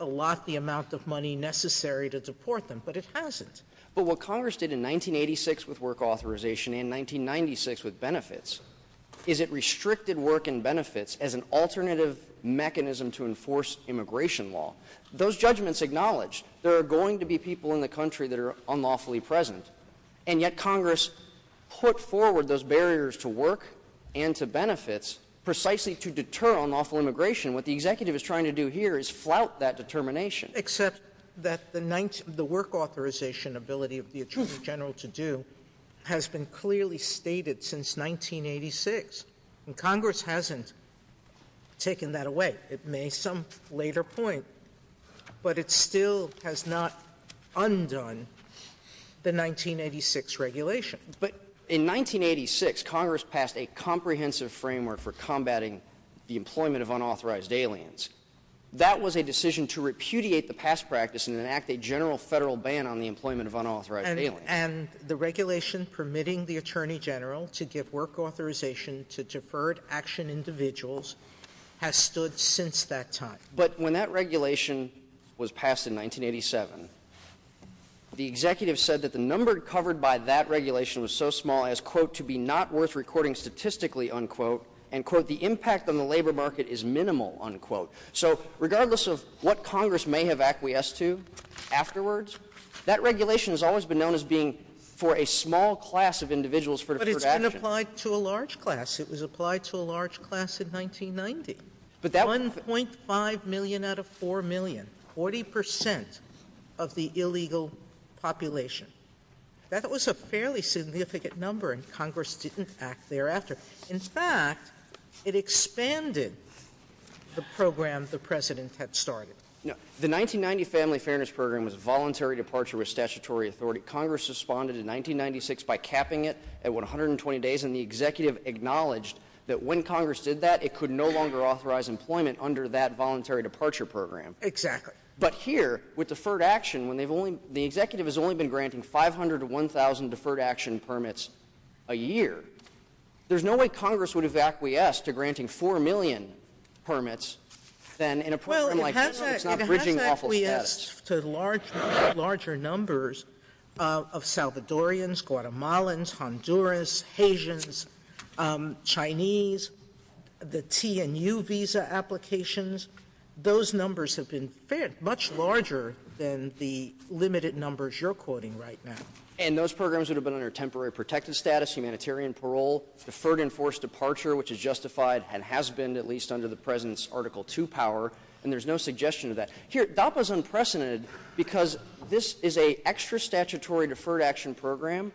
allot the amount of money necessary to support them. But it hasn't. But what Congress did in 1986 with work authorization and 1996 with benefits is it restricted work and benefits as an alternative mechanism to enforce immigration law. Those judgments acknowledge there are going to be people in the country that are unlawfully present. And yet Congress put forward those barriers to work and to benefits precisely to deter unlawful immigration. What the executive is trying to do here is flout that determination. Except that the work authorization ability of the Attorney General to do has been clearly stated since 1986. Congress hasn't taken that away. It may at some later point. But it still has not undone the 1986 regulation. But in 1986, Congress passed a comprehensive framework for combating the employment of unauthorized aliens. That was a decision to repudiate the past practice and enact a general federal ban on the employment of unauthorized aliens. And the regulation permitting the Attorney General to give work authorization to deferred action individuals has stood since that time. But when that regulation was passed in 1987, the executive said that the number covered by that regulation was so small as quote, to be not worth recording statistically, unquote, and quote, the impact on the labor market is minimal, unquote. So regardless of what Congress may have acquiesced to afterwards, that regulation has always been known as being for a small class of individuals for deferred action. But it's been applied to a large class. It was applied to a large class in 1990. 1.5 million out of 4 million, 40% of the illegal population. That was a fairly significant number, and Congress didn't act thereafter. In fact, it expanded the program the President had started. The 1990 Family Fairness Program was a voluntary departure with statutory authority. Congress responded in 1996 by capping it at 120 days, and the executive acknowledged that when Congress did that, it could no longer authorize employment under that voluntary departure program. Exactly. But here, with deferred action, the executive has only been granting 500 to 1,000 deferred action permits a year. There's no way Congress would have acquiesced to granting 4 million permits. Well, it has acquiesced to larger numbers of Salvadorians, Guatemalans, Honduras, Haitians, Chinese, the T&U visa applications. Those numbers have been much larger than the limited numbers you're quoting right now. And those programs would have been under temporary protective status, humanitarian parole, deferred enforced departure, which is justified and has been at least under the President's Article II power, and there's no suggestion of that. Here, DAPA is unprecedented because this is an extra-statutory deferred action program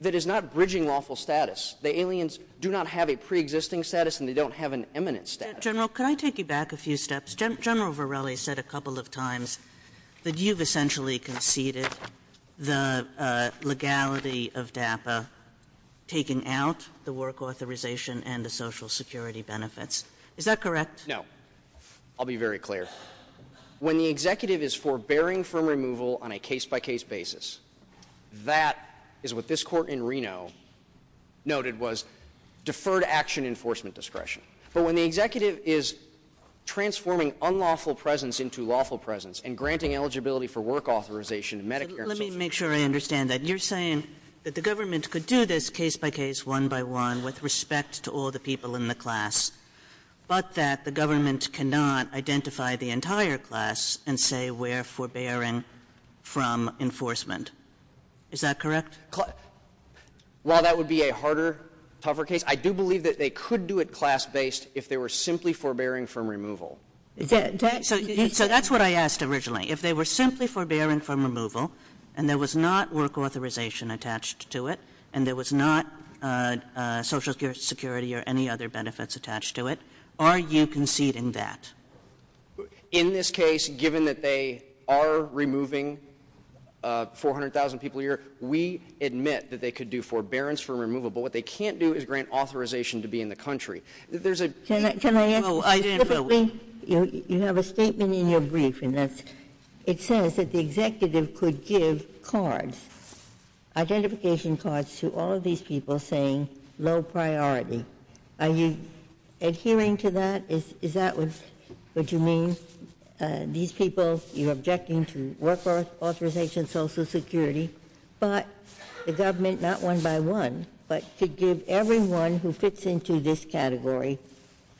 that is not bridging lawful status. The aliens do not have a preexisting status, and they don't have an eminent status. General, can I take you back a few steps? General Varela said a couple of times that you've essentially conceded the legality of DAPA, taking out the work authorization and the Social Security benefits. Is that correct? No. I'll be very clear. When the executive is forbearing from removal on a case-by-case basis, that is what this court in Reno noted was deferred action enforcement discretion. But when the executive is transforming unlawful presence into lawful presence and granting eligibility for work authorization and Medicare and Social Security. Let me make sure I understand that. You're saying that the government could do this case-by-case, one-by-one, with respect to all the people in the class, but that the government cannot identify the entire class and say we're forbearing from enforcement. Is that correct? While that would be a harder, tougher case, I do believe that they could do it class-based if they were simply forbearing from removal. So that's what I asked originally. If they were simply forbearing from removal and there was not work authorization attached to it and there was not Social Security or any other benefits attached to it, are you conceding that? In this case, given that they are removing 400,000 people a year, we admit that they could do forbearance from removal, but what they can't do is grant authorization to be in the country. Can I ask a specific thing? You have a statement in your brief and it says that the executive could give cards, identification cards, to all these people saying low priority. Are you adhering to that? Is that what you mean? These people, you're objecting to work authorization, Social Security, but the government, not one-by-one, but to give everyone who fits into this category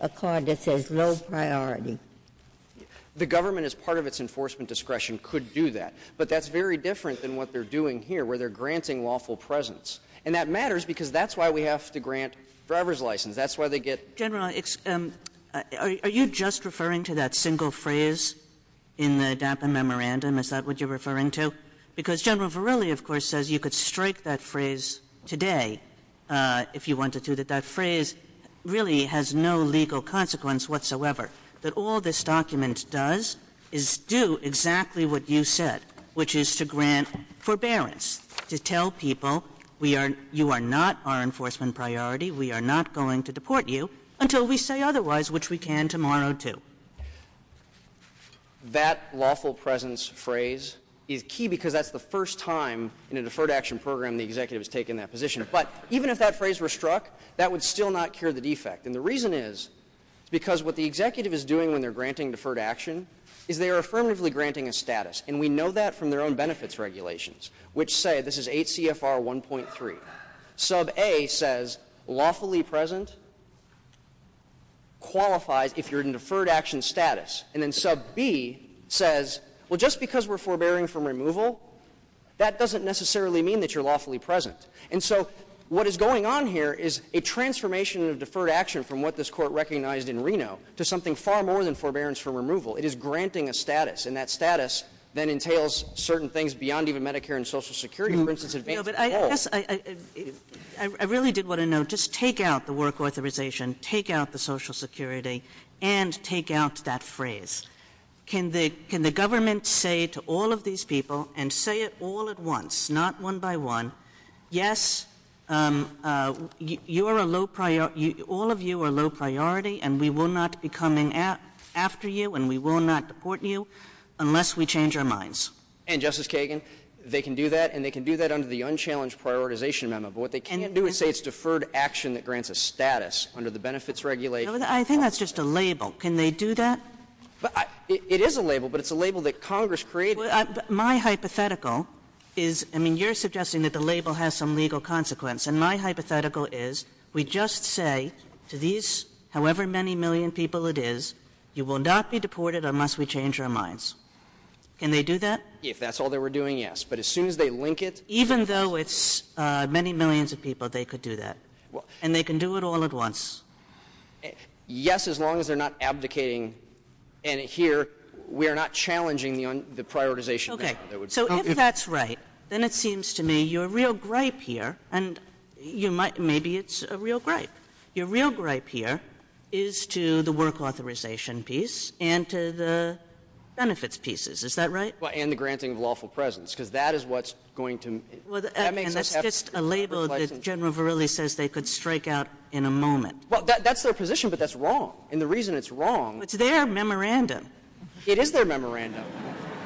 a card that says low priority. The government, as part of its enforcement discretion, could do that, but that's very different than what they're doing here where they're granting lawful presence. And that matters because that's why we have to grant driver's license. That's why they get... General, are you just referring to that single phrase in the DAPA memorandum? Is that what you're referring to? Because General Verrilli, of course, says you could strike that phrase today if you wanted to, that that phrase really has no legal consequence whatsoever, that all this document does is do exactly what you said, which is to grant forbearance, to tell people you are not our enforcement priority, we are not going to deport you until we say otherwise, which we can tomorrow too. That lawful presence phrase is key because that's the first time in a deferred action program the executive has taken that position. But even if that phrase were struck, that would still not cure the defect. And the reason is because what the executive is doing when they're granting deferred action is they're affirmatively granting a status. And we know that from their own benefits regulations, which say... This is 8 CFR 1.3. Sub A says lawfully present, qualified if you're in deferred action status. And then Sub B says, well, just because we're forbearing from removal, that doesn't necessarily mean that you're lawfully present. And so what is going on here is a transformation of deferred action from what this court recognized in Reno to something far more than forbearance from removal. It is granting a status. And that status then entails certain things beyond even Medicare and Social Security. For instance... I really did want to note, just take out the work authorization, take out the Social Security, and take out that phrase. Can the government say to all of these people, and say it all at once, not one by one, yes, all of you are low priority, and we will not be coming after you, and we will not support you unless we change our minds. And, Justice Kagan, they can do that, and they can do that under the unchallenged prioritization memo. But what they can't do is say it's deferred action that grants a status under the benefits regulation. I think that's just a label. Can they do that? It is a label, but it's a label that Congress created. My hypothetical is, I mean, you're suggesting that the label has some legal consequence. And my hypothetical is, we just say to these however many million people it is, you will not be deported unless we change our minds. Can they do that? If that's all they were doing, yes. But as soon as they link it... Even though it's many millions of people, they could do that. And they can do it all at once. Yes, as long as they're not abdicating. And here, we are not challenging the prioritization. Okay, so if that's right, then it seems to me you're real gripe here, and maybe it's a real gripe. You're real gripe here is to the work authorization piece and to the benefits pieces. Is that right? And the granting of lawful presence, because that is what's going to... That's just a label that General Verrilli says they could strike out in a moment. Well, that's their position, but that's wrong. And the reason it's wrong... It's their memorandum. It is their memorandum.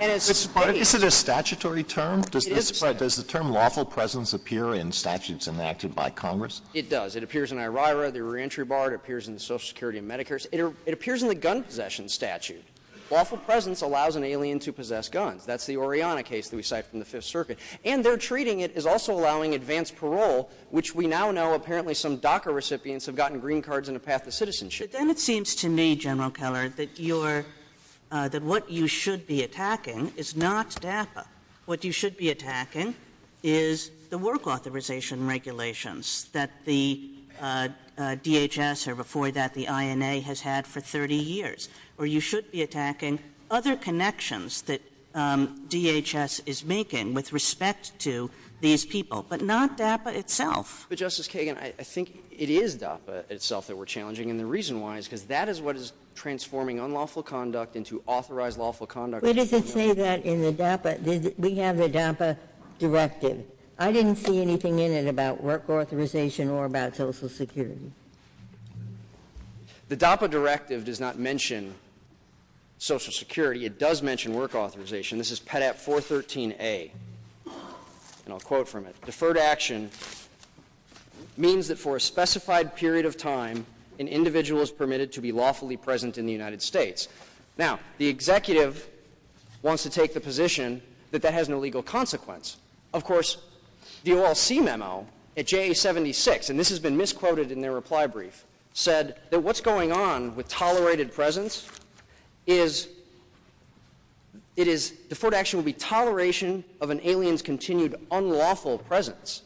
But is it a statutory term? Does the term lawful presence appear in statutes enacted by Congress? It does. It appears in IRIRA, the reentry bar. It appears in the Social Security and Medicare. It appears in the gun possession statute. Lawful presence allows an alien to possess guns. That's the Oriana case that we cite from the Fifth Circuit. And they're treating it as also allowing advanced parole, which we now know apparently some DACA recipients have gotten green cards and a path of citizenship. But then it seems to me, General Keller, that what you should be attacking is not DACA. What you should be attacking is the work authorization regulations that the DHS or before that the INA has had for 30 years, or you should be attacking other connections that DHS is making with respect to these people, but not DACA itself. But, Justice Kagan, I think it is DACA itself that we're challenging, and the reason why is because that is what is transforming unlawful conduct into authorized lawful conduct. But does it say that in the DACA? We have the DACA directive. I didn't see anything in it about work authorization or about Social Security. The DACA directive does not mention Social Security. It does mention work authorization. This is Pet Act 413A, and I'll quote from it. Deferred action means that for a specified period of time, an individual is permitted to be lawfully present in the United States. Now, the executive wants to take the position that that has no legal consequence. Of course, the OLC memo at JA 76, and this has been misquoted in their reply brief, said that what's going on with tolerated presence is deferred action will be toleration of an alien's continued unlawful presence.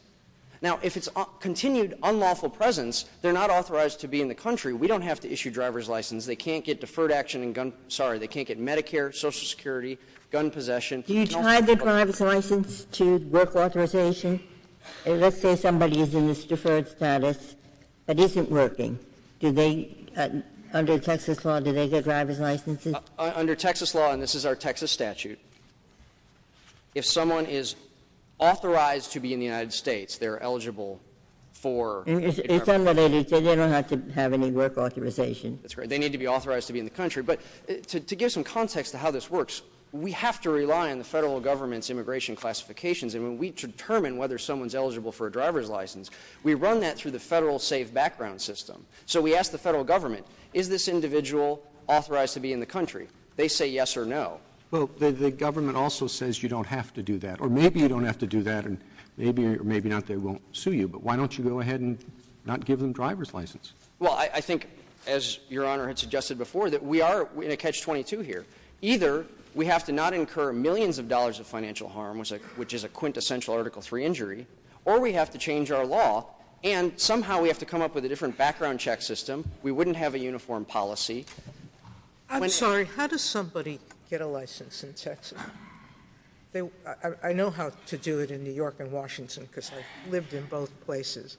Now, if it's continued unlawful presence, they're not authorized to be in the country. We don't have to issue driver's license. They can't get Medicare, Social Security, gun possession. Do you tie the driver's license to work authorization? Let's say somebody is in this deferred status but isn't working. Under Texas law, do they get driver's licenses? Under Texas law, and this is our Texas statute, if someone is authorized to be in the United States, they're eligible for a driver's license. In some of these, they don't have to have any work authorization. That's right. They need to be authorized to be in the country. But to give some context to how this works, we have to rely on the federal government's immigration classifications, and when we determine whether someone's eligible for a driver's license, we run that through the federal safe background system. So we ask the federal government, is this individual authorized to be in the country? They say yes or no. Well, the government also says you don't have to do that, or maybe you don't have to do that and maybe or maybe not they won't sue you, but why don't you go ahead and not give them driver's license? Well, I think, as Your Honor had suggested before, that we are in a catch-22 here. Either we have to not incur millions of dollars of financial harm, which is a quintessential Article III injury, or we have to change our law, and somehow we have to come up with a different background check system. We wouldn't have a uniform policy. I'm sorry, how does somebody get a license in Texas? I know how to do it in New York and Washington because I've lived in both places,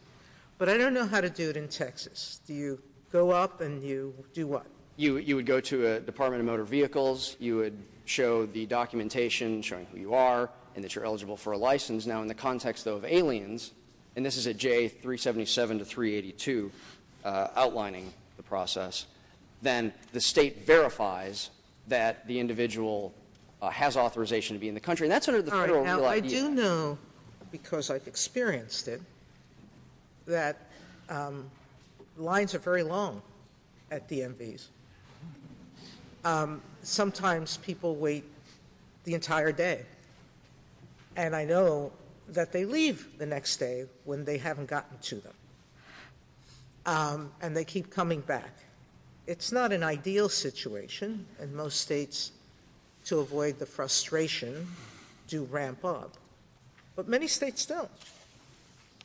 but I don't know how to do it in Texas. Do you go up and you do what? You would go to the Department of Motor Vehicles, you would show the documentation showing who you are and that you're eligible for a license. Now, in the context, though, of aliens, and this is a J377 to 382 outlining the process, then the state verifies that the individual has authorization to be in the country, and that's sort of the federal rule idea. Now, I do know, because I've experienced it, that lines are very long at DMVs. Sometimes people wait the entire day, and I know that they leave the next day when they haven't gotten to them, and they keep coming back. It's not an ideal situation, and most states, to avoid the frustration, do ramp up, but many states don't.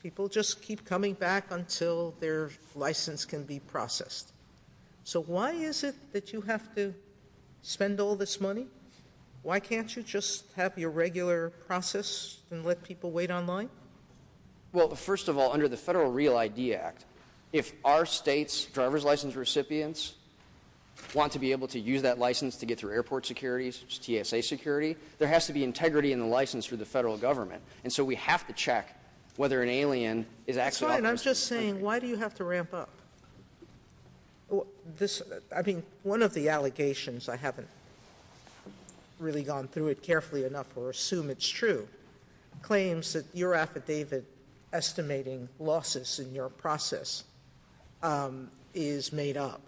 People just keep coming back until their license can be processed. So why is it that you have to spend all this money? Why can't you just have your regular process and let people wait online? Well, first of all, under the Federal Real ID Act, if our state's driver's license recipients want to be able to use that license to get through airport security, TSA security, there has to be integrity in the license for the federal government, and so we have to check whether an alien is actually out there. I'm just saying, why do you have to ramp up? I think one of the allegations, I haven't really gone through it carefully enough or assume it's true, claims that your affidavit estimating losses in your process is made up,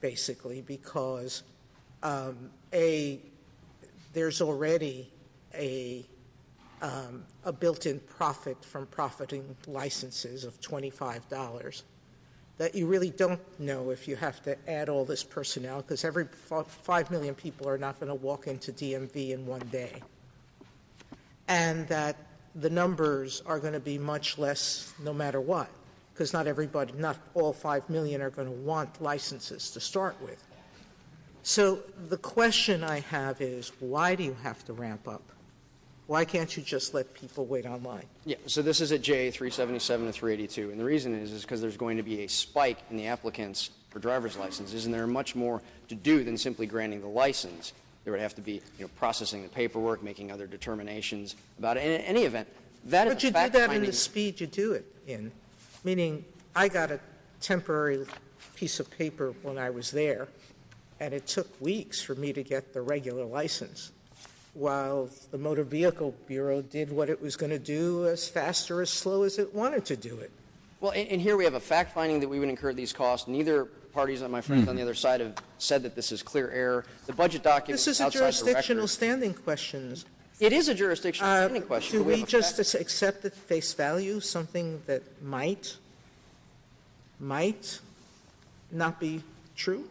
basically, because there's already a built-in profit from profiting licenses of $25 that you really don't know if you have to add all this personnel because 5 million people are not going to walk into DMV in one day and that the numbers are going to be much less no matter what because not all 5 million are going to want licenses to start with. So the question I have is, why do you have to ramp up? Why can't you just let people wait online? Yeah, so this is a J377 or 382, and the reason is because there's going to be a spike in the applicants for driver's licenses and there are much more to do than simply granting the license. There would have to be processing the paperwork, making other determinations, but in any event, that is a fact finding. But you did that in the speed you do it in, meaning I got a temporary piece of paper when I was there and it took weeks for me to get the regular license while the Motor Vehicle Bureau did what it was going to do as fast or as slow as it wanted to do it. Well, and here we have a fact finding that we would incur these costs. Neither parties on the other side have said that this is clear error. This is a jurisdictional standing question. It is a jurisdictional standing question. Can we just accept at face value something that might not be true?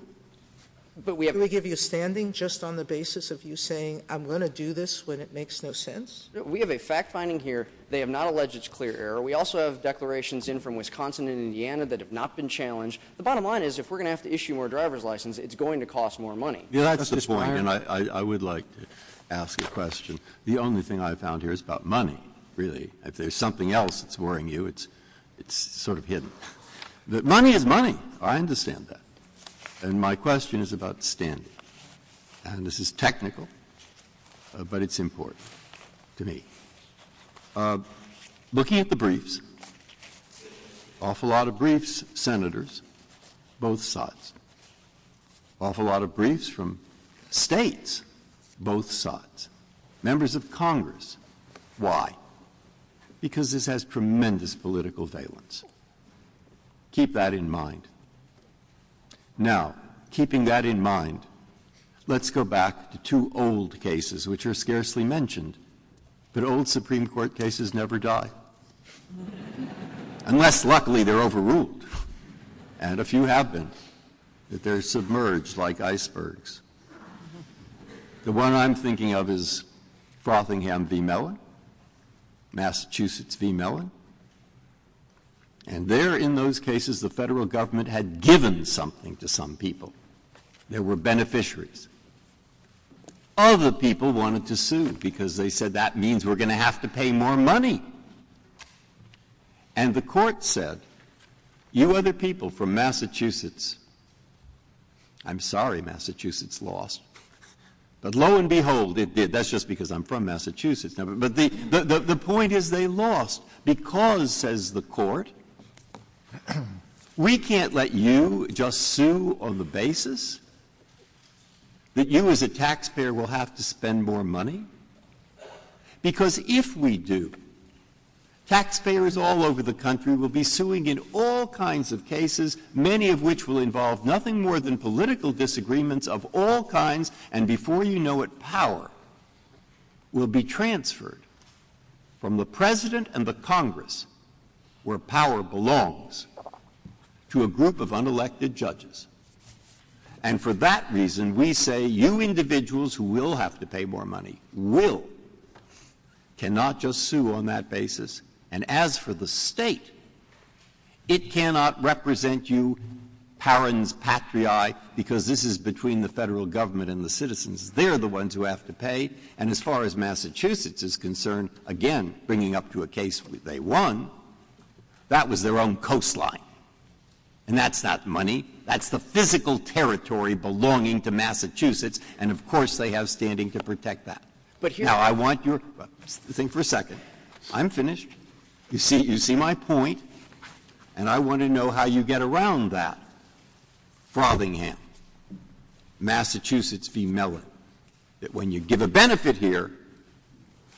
Can we give you a standing just on the basis of you saying, I'm going to do this when it makes no sense? We have a fact finding here. They have not alleged it's clear error. We also have declarations in from Wisconsin and Indiana that have not been challenged. The bottom line is if we're going to have to issue more driver's licenses, it's going to cost more money. That's the point, and I would like to ask a question. The only thing I found here is about money, really. If there's something else that's worrying you, it's sort of hidden. Money is money. I understand that. And my question is about the standing. And this is technical, but it's important to me. Looking at the briefs, awful lot of briefs, senators, both sides. Awful lot of briefs from states, both sides. Members of Congress, why? Because this has tremendous political valence. Keep that in mind. Now, keeping that in mind, let's go back to two old cases, which are scarcely mentioned. But old Supreme Court cases never die. Unless, luckily, they're overruled. And a few have been. But they're submerged like icebergs. The one I'm thinking of is Frothingham v. Mellon, Massachusetts v. Mellon. And there, in those cases, the federal government had given something to some people. There were beneficiaries. Other people wanted to sue because they said, that means we're going to have to pay more money. And the court said, you are the people from Massachusetts. I'm sorry, Massachusetts lost. But lo and behold, it did. That's just because I'm from Massachusetts. But the point is they lost because, says the court, we can't let you just sue on the basis that you as a taxpayer will have to spend more money. Because if we do, taxpayers all over the country will be suing in all kinds of cases, many of which will involve nothing more than political disagreements of all kinds. And before you know it, power will be transferred from the president and the Congress, where power belongs, to a group of unelected judges. And for that reason, we say, you individuals who will have to pay more money, will, cannot just sue on that basis. And as for the state, it cannot represent you parens patriae, because this is between the federal government and the citizens. They're the ones who have to pay. And as far as Massachusetts is concerned, again, bringing up to a case they won, that was their own coastline. And that's not money. That's the physical territory belonging to Massachusetts. And, of course, they have standing to protect that. Now, I want your thing for a second. I'm finished. You see my point. And I want to know how you get around that. Massachusetts v. Miller, that when you give a benefit here,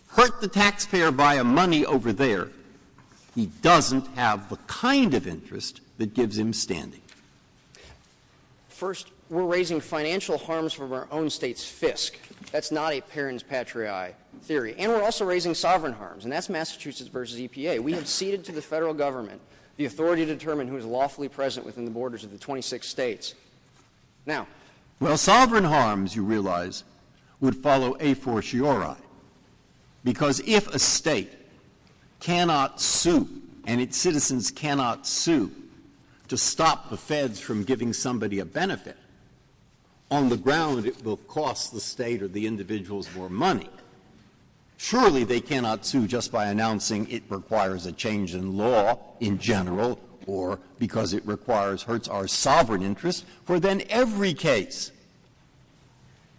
hurt the taxpayer by a money over there, he doesn't have the kind of interest that gives him standing. First, we're raising financial harms from our own state's fisc. That's not a parents patriae theory. And we're also raising sovereign harms, and that's Massachusetts v. EPA. We have ceded to the federal government the authority to determine who is lawfully present within the borders of the 26 states. Now, well, sovereign harms, you realize, would follow a fortiori. Because if a state cannot sue and its citizens cannot sue to stop the feds from giving somebody a benefit, on the ground it will cost the state or the individuals more money. Surely they cannot sue just by announcing it requires a change in law in general or because it requires, hurts our sovereign interest. For then every case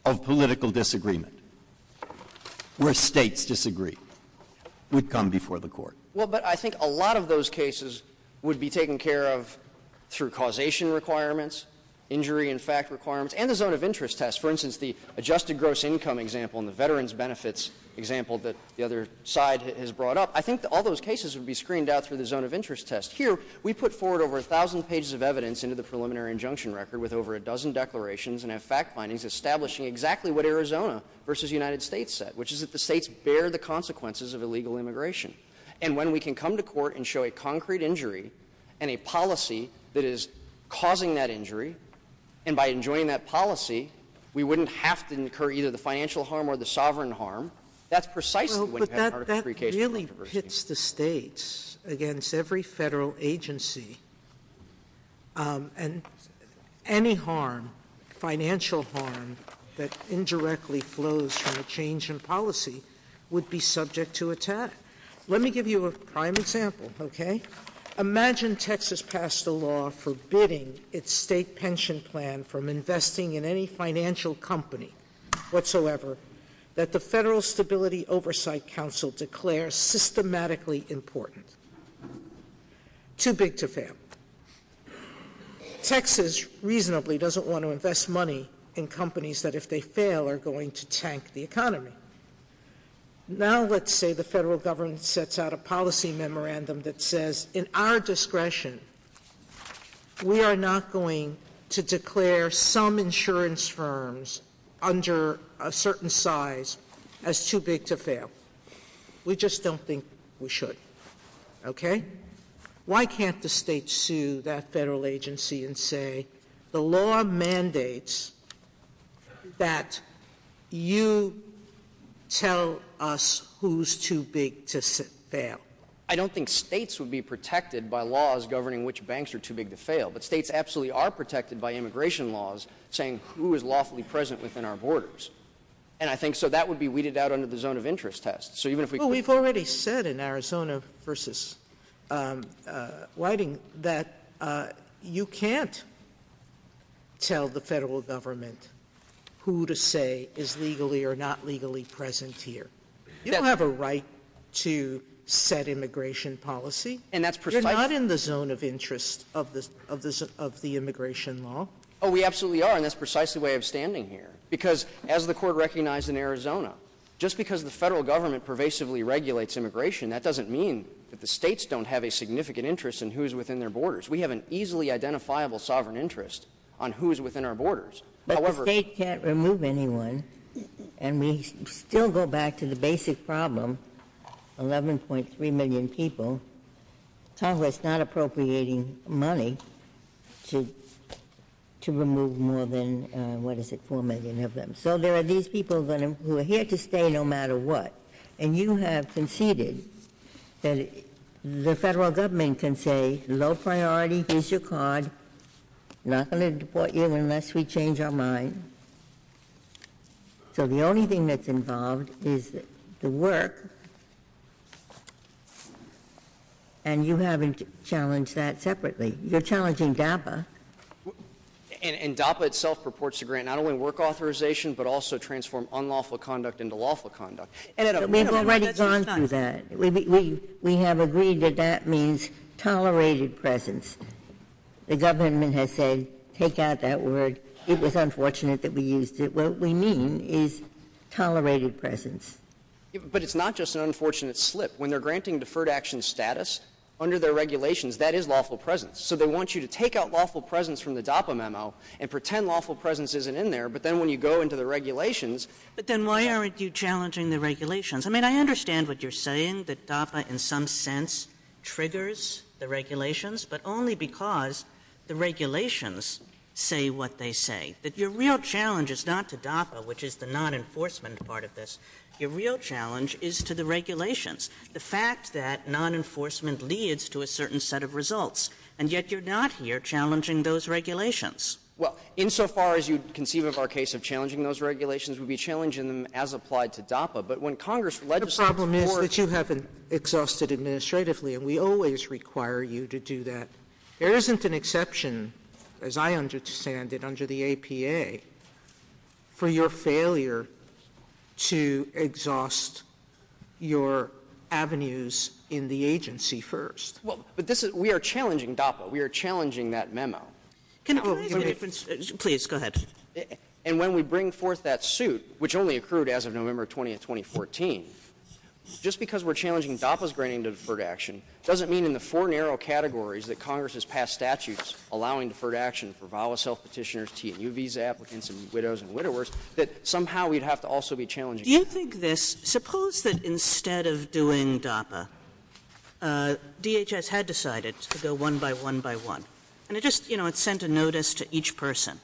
of political disagreement where states disagree would come before the court. Well, but I think a lot of those cases would be taken care of through causation requirements, injury and fact requirements, and the zone of interest test. For instance, the adjusted gross income example and the veterans benefits example that the other side has brought up, I think all those cases would be screened out through the zone of interest test. Here, we put forward over 1,000 pages of evidence into the preliminary injunction record with over a dozen declarations and have fact findings establishing exactly what Arizona v. United States said, which is that the states bear the consequences of illegal immigration. And when we can come to court and show a concrete injury and a policy that is causing that injury, and by enjoying that policy we wouldn't have to incur either the financial harm or the sovereign harm, that's precisely what you have to do. Well, but that really hits the states against every federal agency. And any harm, financial harm, that indirectly flows from a change in policy would be subject to attack. Let me give you a prime example, okay? Imagine Texas passed a law forbidding its state pension plan from investing in any financial company whatsoever that the Federal Stability Oversight Council declares systematically important. Too big to fail. Texas reasonably doesn't want to invest money in companies that if they fail are going to tank the economy. Now let's say the federal government sets out a policy memorandum that says in our discretion, we are not going to declare some insurance firms under a certain size as too big to fail. We just don't think we should, okay? Why can't the states sue that federal agency and say the law mandates that you tell us who's too big to fail? I don't think states would be protected by laws governing which banks are too big to fail, but states absolutely are protected by immigration laws saying who is lawfully present within our borders. So that would be weeded out under the zone of interest test. We've already said in Arizona versus Whiting that you can't tell the federal government who to say is legally or not legally present here. You don't have a right to set immigration policy. You're not in the zone of interest of the immigration law. Oh, we absolutely are, and that's precisely why I'm standing here. Because as the court recognized in Arizona, just because the federal government pervasively regulates immigration, that doesn't mean that the states don't have a significant interest in who is within their borders. We have an easily identifiable sovereign interest on who is within our borders. But the states can't remove anyone, and we still go back to the basic problem, 11.3 million people, Congress not appropriating money to remove more than, what is it, 4 million of them. So there are these people who are here to stay no matter what, and you have conceded that the federal government can say, low priority, here's your card, not going to deport you unless we change our mind. So the only thing that's involved is the work, and you haven't challenged that separately. You're challenging DAPA. And DAPA itself purports to grant not only work authorization, but also transform unlawful conduct into lawful conduct. We've already gone through that. We have agreed that that means tolerated presence. The government has said, take out that word. It was unfortunate that we used it. What we mean is tolerated presence. But it's not just an unfortunate slip. When they're granting deferred action status, under their regulations, that is lawful presence. So they want you to take out lawful presence from the DAPA memo and pretend lawful presence isn't in there, but then when you go into the regulations... But then why aren't you challenging the regulations? I mean, I understand what you're saying, that DAPA in some sense triggers the regulations, but only because the regulations say what they say, that your real challenge is not to DAPA, which is the non-enforcement part of this. Your real challenge is to the regulations. The fact that non-enforcement leads to a certain set of results, and yet you're not here challenging those regulations. Well, insofar as you conceive of our case of challenging those regulations, we'd be challenging them as applied to DAPA. But when Congress legislates... The problem is that you haven't exhausted administratively, and we always require you to do that. There isn't an exception, as I understand it, under the APA, for your failure to exhaust your avenues in the agency first. But we are challenging DAPA. We are challenging that memo. Can I... Please, go ahead. And when we bring forth that suit, which only accrued as of November 20, 2014, just because we're challenging DAPA's granting of deferred action doesn't mean in the four narrow categories that Congress has passed statutes allowing deferred action for VAWA self-petitioners, T&U visa applicants, and widows and widowers, that somehow we'd have to also be challenging... Do you think this... Suppose that instead of doing DAPA, DHS had decided to go one by one by one, and it just sent a notice to each person.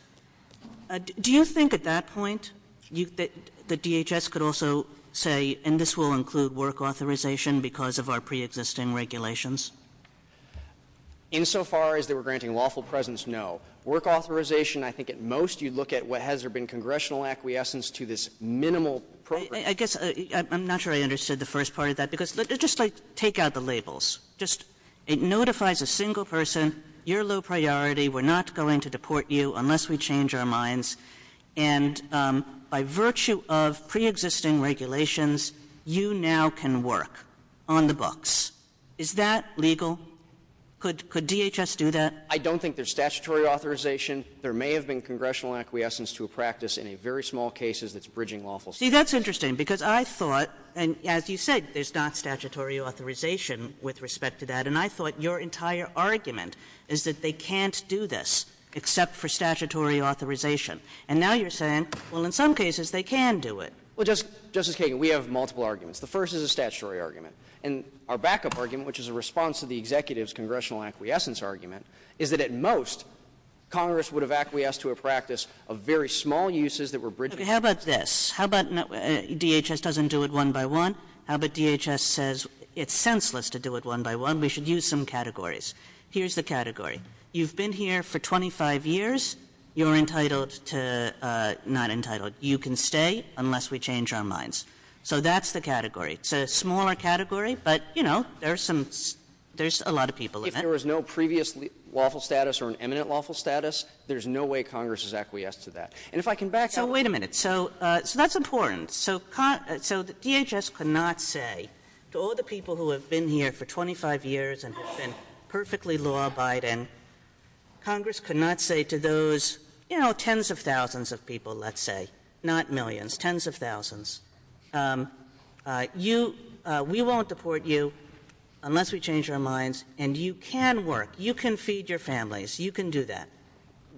Do you think at that point that DHS could also say, and this will include work authorization because of our preexisting regulations? Insofar as they were granting lawful presence, no. Work authorization, I think at most you'd look at what has there been congressional acquiescence to this minimal program. I guess I'm not sure I understood the first part of that because just take out the labels. It notifies a single person, you're low priority, we're not going to deport you unless we change our minds, and by virtue of preexisting regulations, you now can work on the books. Is that legal? Could DHS do that? I don't think there's statutory authorization. There may have been congressional acquiescence to a practice in very small cases that's bridging lawful... See, that's interesting because I thought, and as you said, there's not statutory authorization with respect to that, and I thought your entire argument is that they can't do this except for statutory authorization. And now you're saying, well, in some cases they can do it. Well, Justice Kagan, we have multiple arguments. The first is a statutory argument. And our backup argument, which is a response to the executive's congressional acquiescence argument, is that at most Congress would have acquiesced to a practice of very small uses that were bridging... Okay, how about this? DHS doesn't do it one by one. How about DHS says it's senseless to do it one by one. We should use some categories. Here's the category. You've been here for 25 years. You're entitled to, not entitled, you can stay unless we change our minds. So that's the category. It's a smaller category, but, you know, there's a lot of people in that. If there was no previous lawful status or an eminent lawful status, there's no way Congress has acquiesced to that. And if I can back up... Now, wait a minute. So that's important. So DHS cannot say to all the people who have been here for 25 years and have been perfectly law-abiding, Congress cannot say to those, you know, tens of thousands of people, let's say, not millions, tens of thousands, we won't deport you unless we change our minds, and you can work, you can feed your families, you can do that.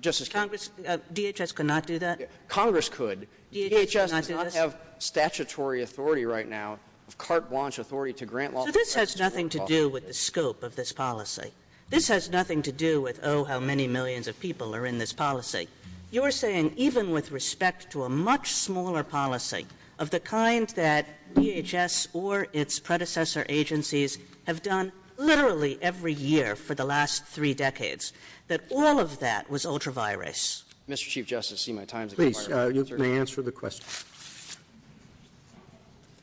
DHS cannot do that? Congress could. DHS does not have statutory authority right now, carte blanche authority to grant lawful status. This has nothing to do with the scope of this policy. This has nothing to do with, oh, how many millions of people are in this policy. You're saying even with respect to a much smaller policy of the kind that DHS or its predecessor agencies have done literally every year for the last three decades, that all of that was ultra-virus? Mr. Chief Justice, see my time's up. Please, you may answer the question.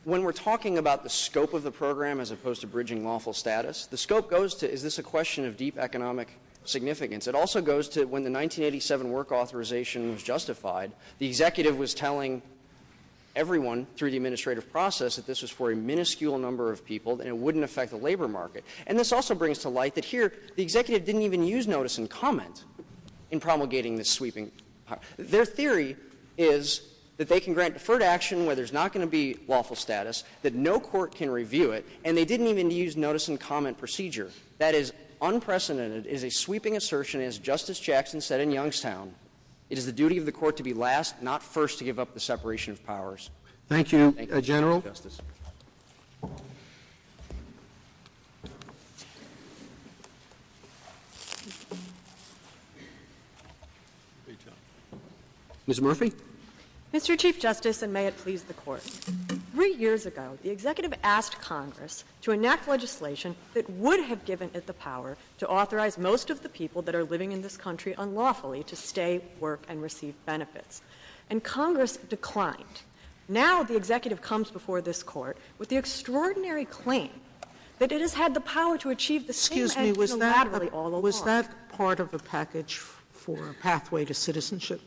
When we're talking about the scope of the program as opposed to bridging lawful status, the scope goes to is this a question of deep economic significance? It also goes to when the 1987 work authorization was justified, the executive was telling everyone through the administrative process that this was for a minuscule number of people and it wouldn't affect the labor market. And this also brings to light that here the executive didn't even use notice and comment in promulgating this sweeping. Their theory is that they can grant deferred action where there's not going to be lawful status, that no court can review it, and they didn't even use notice and comment procedure. That is unprecedented, is a sweeping assertion, as Justice Jackson said in Youngstown, it is the duty of the court to be last, not first, to give up the separation of powers. Thank you, General. Ms. Murphy? Mr. Chief Justice, and may it please the court, three years ago the executive asked Congress to enact legislation that would have given it the power to authorize most of the people that are living in this country unlawfully to stay, work, and receive benefits. And Congress declined. Now the executive comes before this court with the extraordinary claim that it has had the power to achieve the same act unilaterally all along. Was that part of the package for a pathway to citizenship?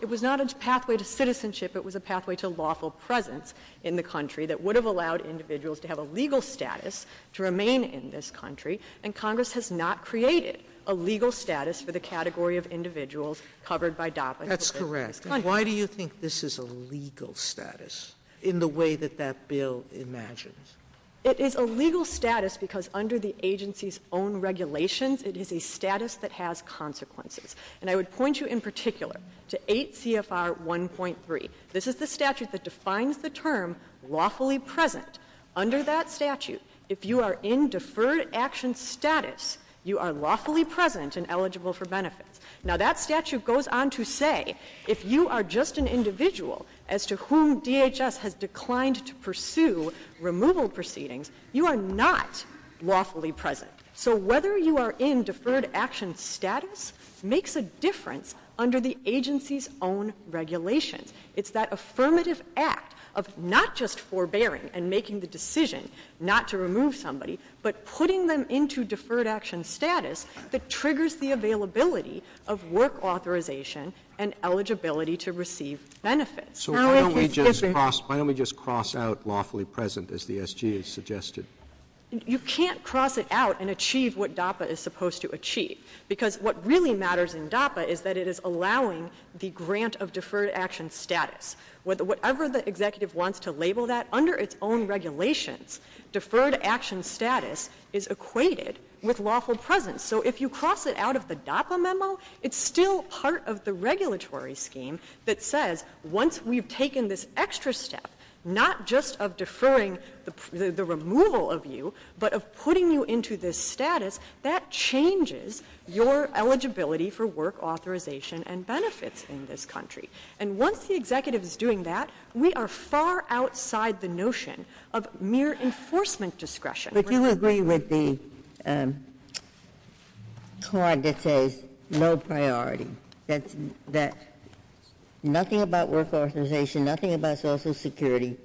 It was not a pathway to citizenship, it was a pathway to lawful presence in the country that would have allowed individuals to have a legal status to remain in this country, and Congress has not created a legal status for the category of individuals covered by DACA. That's correct. Why do you think this is a legal status in the way that that bill imagines? It is a legal status because under the agency's own regulations, it is a status that has consequences. And I would point you in particular to 8 CFR 1.3. This is the statute that defines the term lawfully present. Under that statute, if you are in deferred action status, you are lawfully present and eligible for benefits. Now that statute goes on to say if you are just an individual as to whom DHS has declined to pursue removal proceedings, you are not lawfully present. So whether you are in deferred action status makes a difference under the agency's own regulation. It's that affirmative act of not just forbearing and making the decision not to remove somebody, but putting them into deferred action status that triggers the availability of work authorization and eligibility to receive benefits. So why don't we just cross out lawfully present as DSG has suggested? You can't cross it out and achieve what DAPA is supposed to achieve, because what really matters in DAPA is that it is allowing the grant of deferred action status. Whatever the executive wants to label that, under its own regulations, deferred action status is equated with lawful presence. So if you cross it out of the DAPA memo, it's still part of the regulatory scheme that says once we've taken this extra step, not just of deferring the removal of you, but of putting you into this status, that changes your eligibility for work authorization and benefits in this country. And once the executive is doing that, we are far outside the notion of mere enforcement discretion. If you agree with the card that says low priority, that nothing about work authorization, nothing about social security,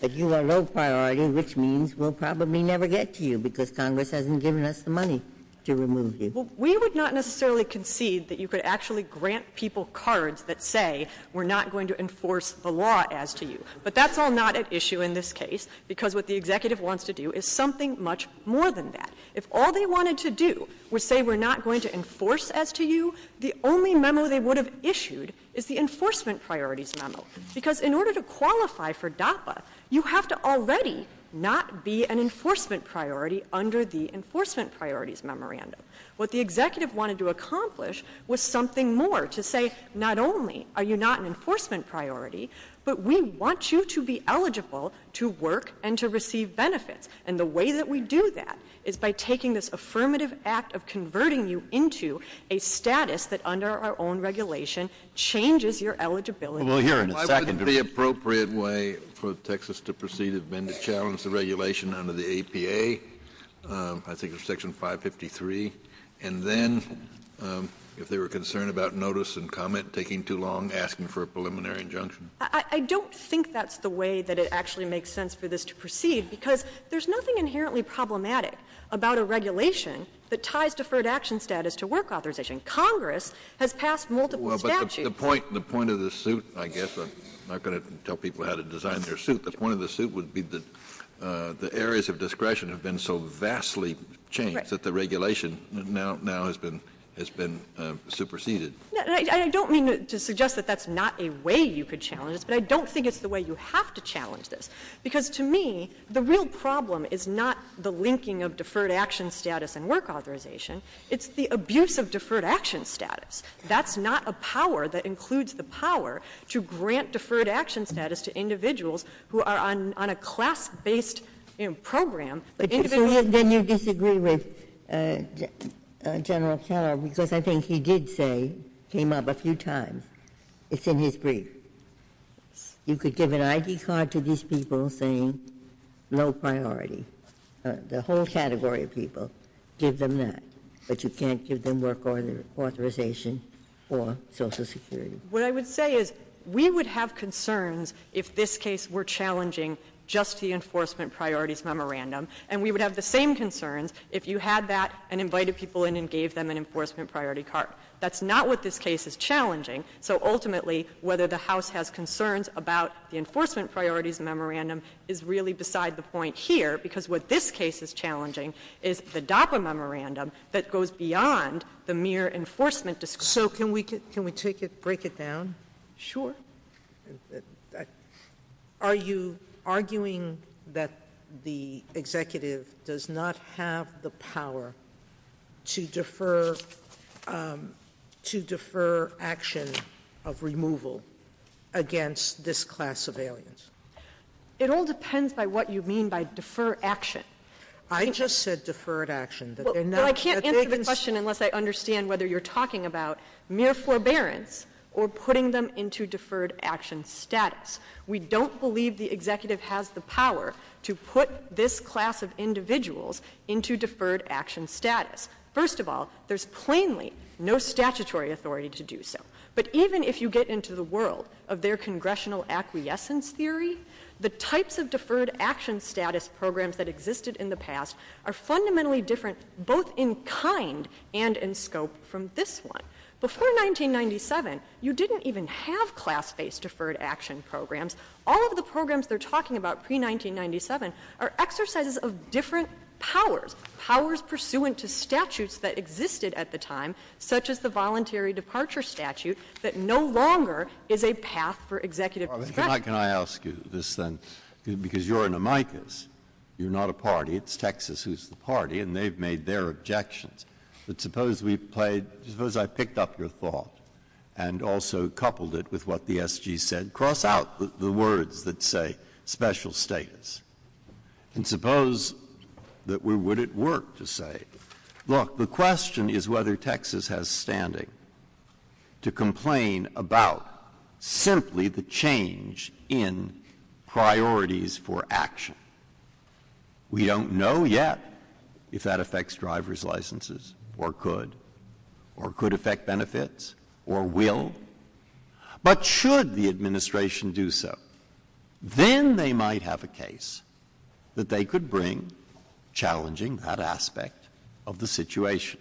that you are low priority, which means we'll probably never get to you because Congress hasn't given us the money to remove you. Well, we would not necessarily concede that you could actually grant people cards that say we're not going to enforce the law as to you. But that's all not at issue in this case, because what the executive wants to do is something much more than that. If all they wanted to do was say we're not going to enforce as to you, the only memo they would have issued is the enforcement priorities memo. Because in order to qualify for DAPA, you have to already not be an enforcement priority under the enforcement priorities memorandum. What the executive wanted to accomplish was something more, to say not only are you not an enforcement priority, but we want you to be eligible to work and to receive benefits. And the way that we do that is by taking this affirmative act of converting you into a status that under our own regulation changes your eligibility. Why wouldn't the appropriate way for Texas to proceed has been to challenge the regulation under the APA, I think it's Section 553, and then if they were concerned about notice and comment, taking too long, asking for a preliminary injunction? I don't think that's the way that it actually makes sense for this to proceed, because there's nothing inherently problematic about a regulation that ties deferred action status to work authorization. Congress has passed multiple statutes. The point of the suit, I guess, I'm not going to tell people how to design their suit, the point of the suit would be that the areas of discretion have been so vastly changed that the regulation now has been superseded. I don't mean to suggest that that's not a way you could challenge this, but I don't think it's the way you have to challenge this, because to me the real problem is not the linking of deferred action status and work authorization, it's the abuse of deferred action status. That's not a power that includes the power to grant deferred action status to individuals who are on a class-based program. Then you disagree with General Keller, because I think he did say, came up a few times, it's in his brief, you could give an ID card to these people saying low priority, the whole category of people, give them that, but you can't give them work authorization for Social Security. What I would say is we would have concerns if this case were challenging just the enforcement priorities memorandum, and we would have the same concerns if you had that and invited people in and gave them an enforcement priority card. That's not what this case is challenging, so ultimately whether the House has concerns about the enforcement priorities memorandum is really beside the point here, because what this case is challenging is the DAPA memorandum that goes beyond the mere enforcement. So can we break it down? Sure. Are you arguing that the executive does not have the power to defer action of removal against this class of aliens? It all depends on what you mean by defer action. I just said deferred action. I can't answer the question unless I understand whether you're talking about mere forbearance or putting them into deferred action status. We don't believe the executive has the power to put this class of individuals into deferred action status. First of all, there's plainly no statutory authority to do so, but even if you get into the world of their congressional acquiescence theory, the types of deferred action status programs that existed in the past are fundamentally different, both in kind and in scope, from this one. Before 1997, you didn't even have class-based deferred action programs. All of the programs they're talking about pre-1997 are exercises of different powers, powers pursuant to statutes that existed at the time, such as the voluntary departure statute, that no longer is a path for executive action. Can I ask you this then? Because you're an amicus. You're not a party. It's Texas who's the party, and they've made their objections. But suppose I picked up your thought and also coupled it with what the SG said, cross out the words that say special states, and suppose that we would at work to say, look, the question is whether Texas has standing to complain about simply the change in priorities for action. We don't know yet if that affects driver's licenses or could, or could affect benefits or will. But should the administration do so, then they might have a case that they could bring challenging that aspect of the situation.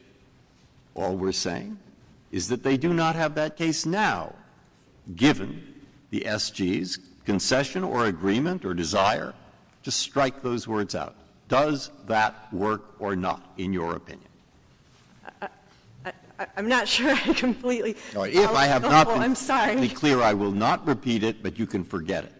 All we're saying is that they do not have that case now, given the SG's concession or agreement or desire to strike those words out. Does that work or not, in your opinion? I'm not sure completely. If I have not been clear, I will not repeat it, but you can forget it.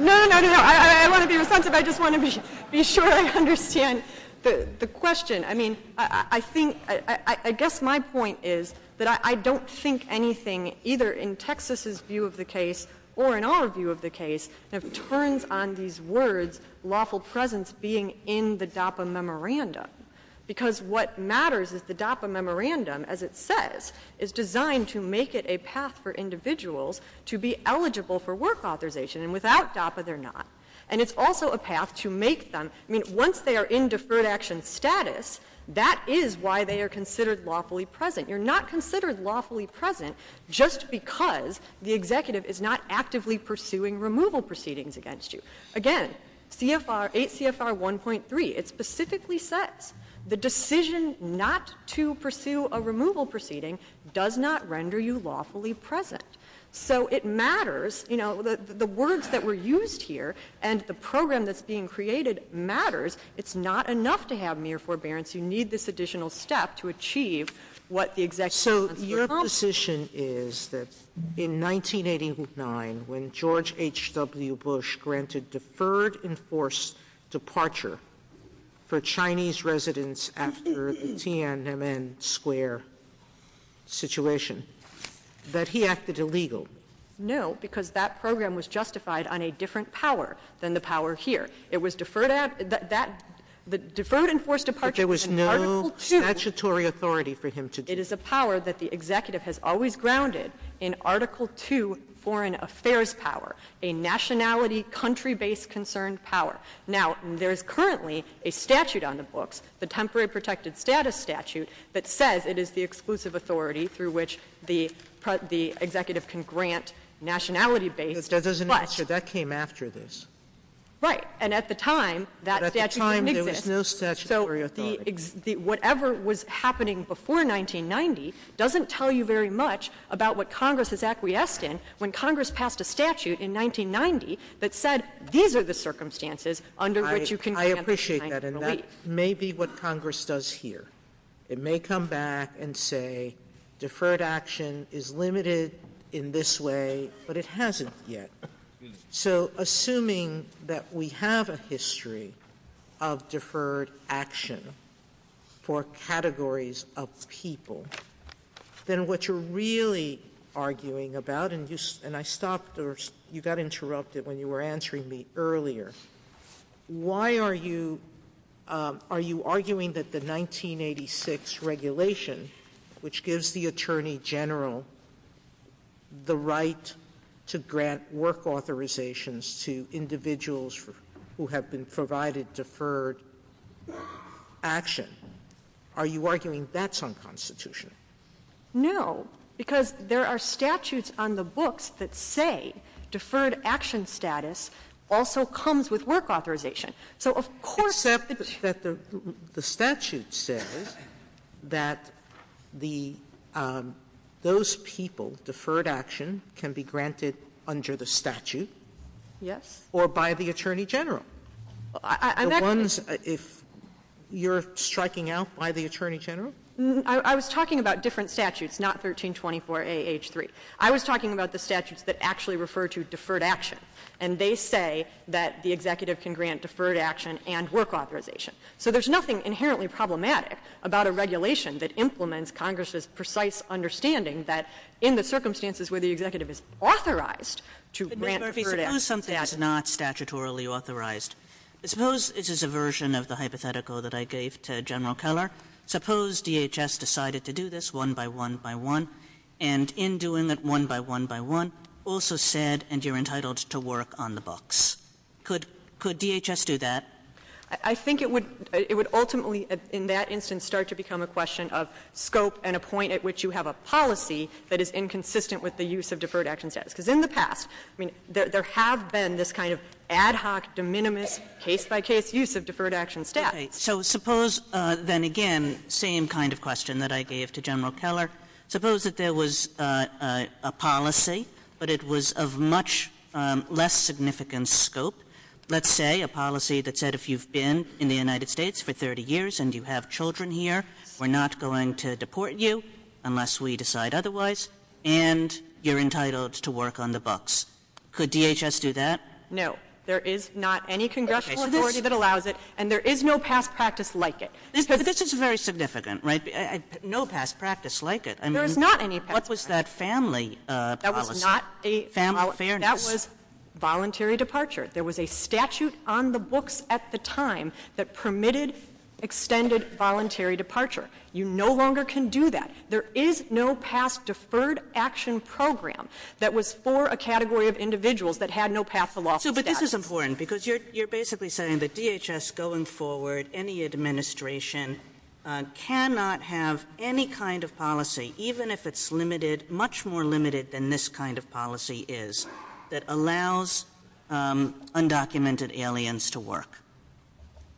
No, no, no. I don't want to be offensive. I just want to be sure I understand the question. I mean, I think, I guess my point is that I don't think anything, either in Texas's view of the case or in our view of the case, that turns on these words, lawful presence being in the DAPA memorandum. Because what matters is the DAPA memorandum, as it says, is designed to make it a path for individuals to be eligible for work authorization. And without DAPA, they're not. And it's also a path to make them, I mean, once they are in deferred action status, that is why they are considered lawfully present. You're not considered lawfully present just because the executive is not actively pursuing removal proceedings against you. Again, CFR, 8 CFR 1.3, it specifically says the decision not to pursue a removal proceeding does not render you lawfully present. So it matters, you know, the words that were used here and the program that's being created matters. It's not enough to have mere forbearance. So your position is that in 1989, when George H.W. Bush granted deferred enforced departure for Chinese residents after the Tiananmen Square situation, that he acted illegal. No, because that program was justified on a different power than the power here. It was deferred and enforced departure. But there was no statutory authority for him to do that. It is a power that the executive has always grounded in Article II foreign affairs power, a nationality country-based concerned power. Now, there is currently a statute on the books, the Temporary Protected Status Statute, that says it is the exclusive authority through which the executive can grant nationality-based. But that came after this. Right. And at the time, that statute didn't exist. But at the time, there was no statutory authority. Whatever was happening before 1990 doesn't tell you very much about what Congress is acquiescing when Congress passed a statute in 1990 that said these are the circumstances under which you can grant nationality. I appreciate that, and that may be what Congress does here. It may come back and say deferred action is limited in this way, but it hasn't yet. So assuming that we have a history of deferred action for categories of people, then what you're really arguing about, and I stopped or you got interrupted when you were answering me earlier, why are you arguing that the 1986 regulation, which gives the attorney general the right to grant work authorizations to individuals who have been provided deferred action, are you arguing that's unconstitutional? No, because there are statutes on the books that say deferred action status also comes with work authorization. So of course that the statute says that those people, deferred action, can be granted under the statute or by the attorney general. If you're striking out by the attorney general? I was talking about different statutes, not 1324AH3. I was talking about the statutes that actually refer to deferred action, and they say that the executive can grant deferred action and work authorization. So there's nothing inherently problematic about a regulation that implements Congress's precise understanding that in the circumstances where the executive is authorized to grant deferred action. Suppose something is not statutorily authorized. Suppose this is a version of the hypothetical that I gave to General Keller. Suppose DHS decided to do this one by one by one, and in doing it one by one by one also said, and you're entitled to work on the books. Could DHS do that? I think it would ultimately in that instance start to become a question of scope and a point at which you have a policy that is inconsistent with the use of deferred action status, because in the past there have been this kind of ad hoc, de minimis, case-by-case use of deferred action status. So suppose, then again, same kind of question that I gave to General Keller. Suppose that there was a policy, but it was of much less significant scope. Let's say a policy that said if you've been in the United States for 30 years and you have children here, we're not going to deport you unless we decide otherwise, and you're entitled to work on the books. Could DHS do that? No. There is not any congressional authority that allows it, and there is no past practice like it. But this is very significant, right? No past practice like it. There is not any past practice. What was that family policy, family fairness? That was voluntary departure. There was a statute on the books at the time that permitted extended voluntary departure. You no longer can do that. There is no past deferred action program that was for a category of individuals that had no past philosophy. But this is important because you're basically saying that DHS going forward, any administration, cannot have any kind of policy, even if it's much more limited than this kind of policy is, that allows undocumented aliens to work.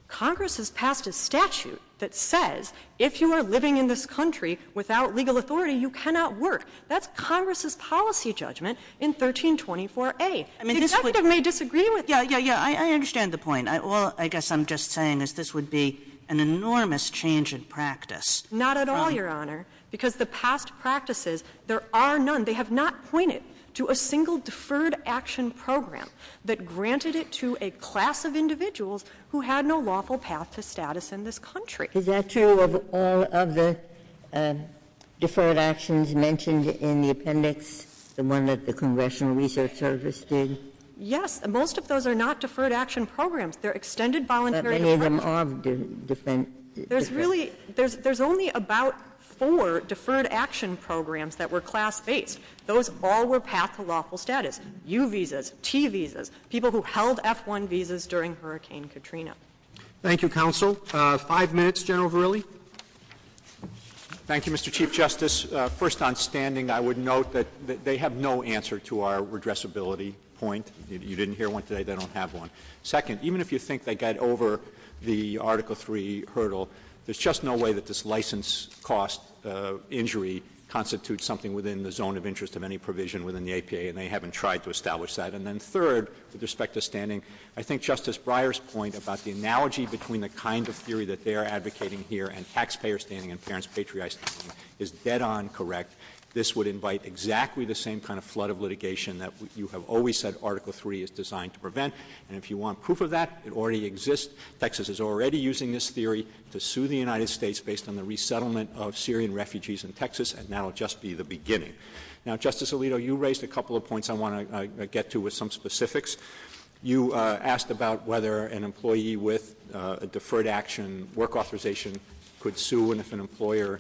Congress has passed a statute that says if you are living in this country without legal authority, you cannot work. That's Congress's policy judgment in 1324A. It may disagree with you. Yeah, yeah, yeah. I understand the point. All I guess I'm just saying is this would be an enormous change in practice. Not at all, Your Honor, because the past practices, there are none. They have not pointed to a single deferred action program that granted it to a class of individuals who had no lawful path to status in this country. Is that true of all of the deferred actions mentioned in the appendix, the one that the Congressional Research Service did? Yes. Most of those are not deferred action programs. They're extended voluntary departures. But they made them all different. There's only about four deferred action programs that were class-based. Those all were path to lawful status. U visas, T visas, people who held F-1 visas during Hurricane Katrina. Thank you, counsel. Five minutes, General Verrilli. Thank you, Mr. Chief Justice. First, on standing, I would note that they have no answer to our redressability point. You didn't hear one today. They don't have one. Second, even if you think they got over the Article III hurdle, there's just no way that this license cost injury constitutes something within the zone of interest of any provision within the APA, and they haven't tried to establish that. And then third, with respect to standing, I think Justice Breyer's point about the analogy between the kind of theory that they're advocating here and taxpayer standing and parents' patrioticism is dead-on correct. This would invite exactly the same kind of flood of litigation that you have always said if you want proof of that, it already exists. Texas is already using this theory to sue the United States based on the resettlement of Syrian refugees in Texas, and that will just be the beginning. Now, Justice Alito, you raised a couple of points I want to get to with some specifics. You asked about whether an employee with a deferred action work authorization could sue and if an employer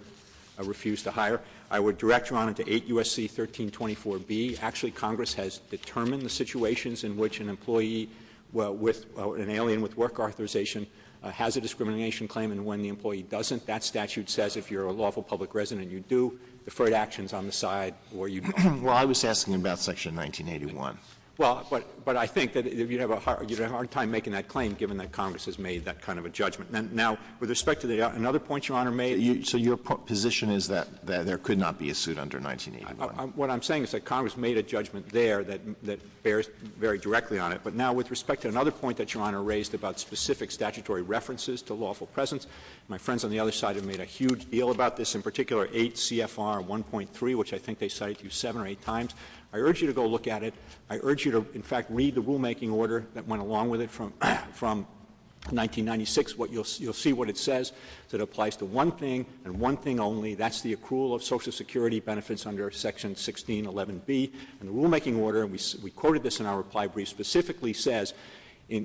refused to hire. I would direct you on it to 8 U.S.C. 1324B. Actually, Congress has determined the situations in which an employee with an alien with work authorization has a discrimination claim and when the employee doesn't, that statute says if you're a lawful public resident, you do deferred actions on the side where you don't. Well, I was asking about Section 1981. Well, but I think that you have a hard time making that claim, given that Congress has made that kind of a judgment. Now, with respect to the other points Your Honor made, so your position is that there could not be a suit under 1981? What I'm saying is that Congress made a judgment there that bears very directly on it. But now with respect to another point that Your Honor raised about specific statutory references to lawful presence, my friends on the other side have made a huge deal about this, in particular 8 CFR 1.3, which I think they cited you seven or eight times. I urge you to go look at it. I urge you to, in fact, read the rulemaking order that went along with it from 1996. You'll see what it says. It applies to one thing and one thing only. That's the accrual of Social Security benefits under Section 1611B. The rulemaking order, and we quoted this in our reply brief, specifically says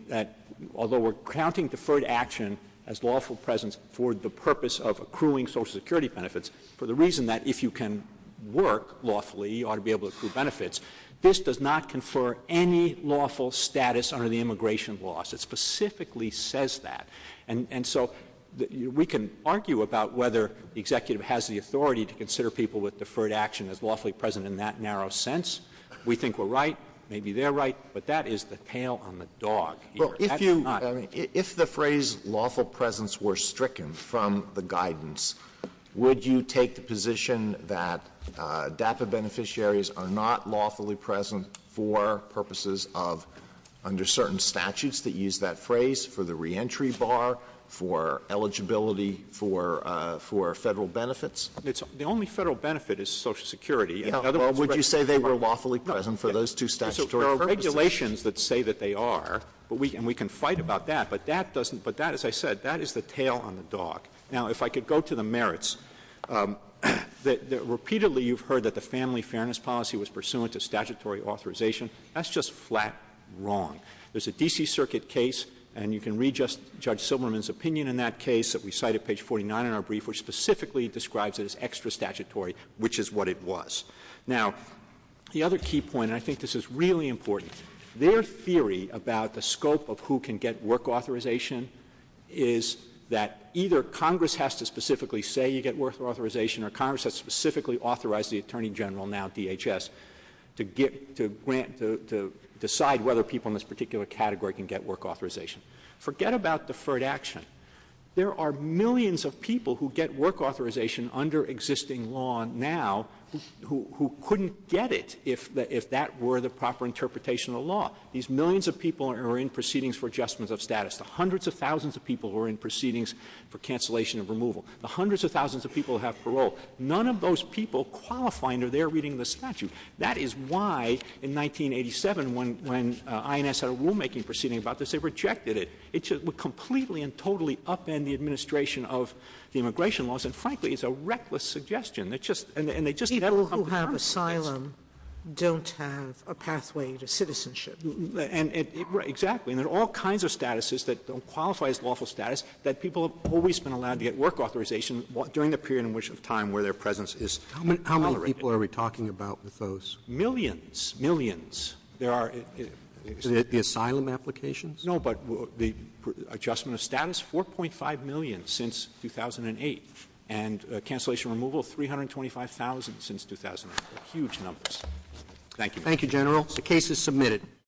that although we're counting deferred action as lawful presence for the purpose of accruing Social Security benefits, for the reason that if you can work lawfully, you ought to be able to accrue benefits, this does not confer any lawful status under the immigration laws. It specifically says that. And so we can argue about whether the executive has the authority to consider people with deferred action as lawfully present in that narrow sense. We think we're right. Maybe they're right. But that is the tail on the dog here. If the phrase lawful presence were stricken from the guidance, would you take the position that DAPA beneficiaries are not lawfully present for purposes of, under certain statutes that use that phrase, for the reentry bar, for eligibility, for federal benefits? The only federal benefit is Social Security. Would you say they were lawfully present for those two statutory purposes? There are regulations that say that they are, and we can fight about that. But that, as I said, that is the tail on the dog. Now, if I could go to the merits. Repeatedly you've heard that the family fairness policy was pursuant to statutory authorization. That's just flat wrong. There's a D.C. Circuit case, and you can read Judge Silverman's opinion in that case that we cite at page 49 in our brief, which specifically describes it as extra statutory, which is what it was. Now, the other key point, and I think this is really important, their theory about the scope of who can get work authorization is that either Congress has to specifically say you get work authorization, or Congress has to specifically authorize the Attorney General, now DHS, to decide whether people in this particular category can get work authorization. Forget about deferred action. There are millions of people who get work authorization under existing law now who couldn't get it if that were the proper interpretation of the law. These millions of people are in proceedings for adjustment of status. The hundreds of thousands of people are in proceedings for cancellation of removal. The hundreds of thousands of people have parole. None of those people qualifying are there reading the statute. That is why, in 1987, when INS had a rulemaking proceeding about this, they rejected it. It would completely and totally upend the administration of the immigration laws, and frankly, it's a reckless suggestion. It's just – and they just – Exactly. There are all kinds of statuses that don't qualify as lawful status that people have always been allowed to get work authorization during the period in which time where their presence is tolerated. How many people are we talking about with those? Millions. Millions. There are – Is it the asylum applications? No, but the adjustment of status, 4.5 million since 2008, and cancellation of removal, 325,000 since 2008. Huge numbers. Thank you. Thank you, General. The case is submitted.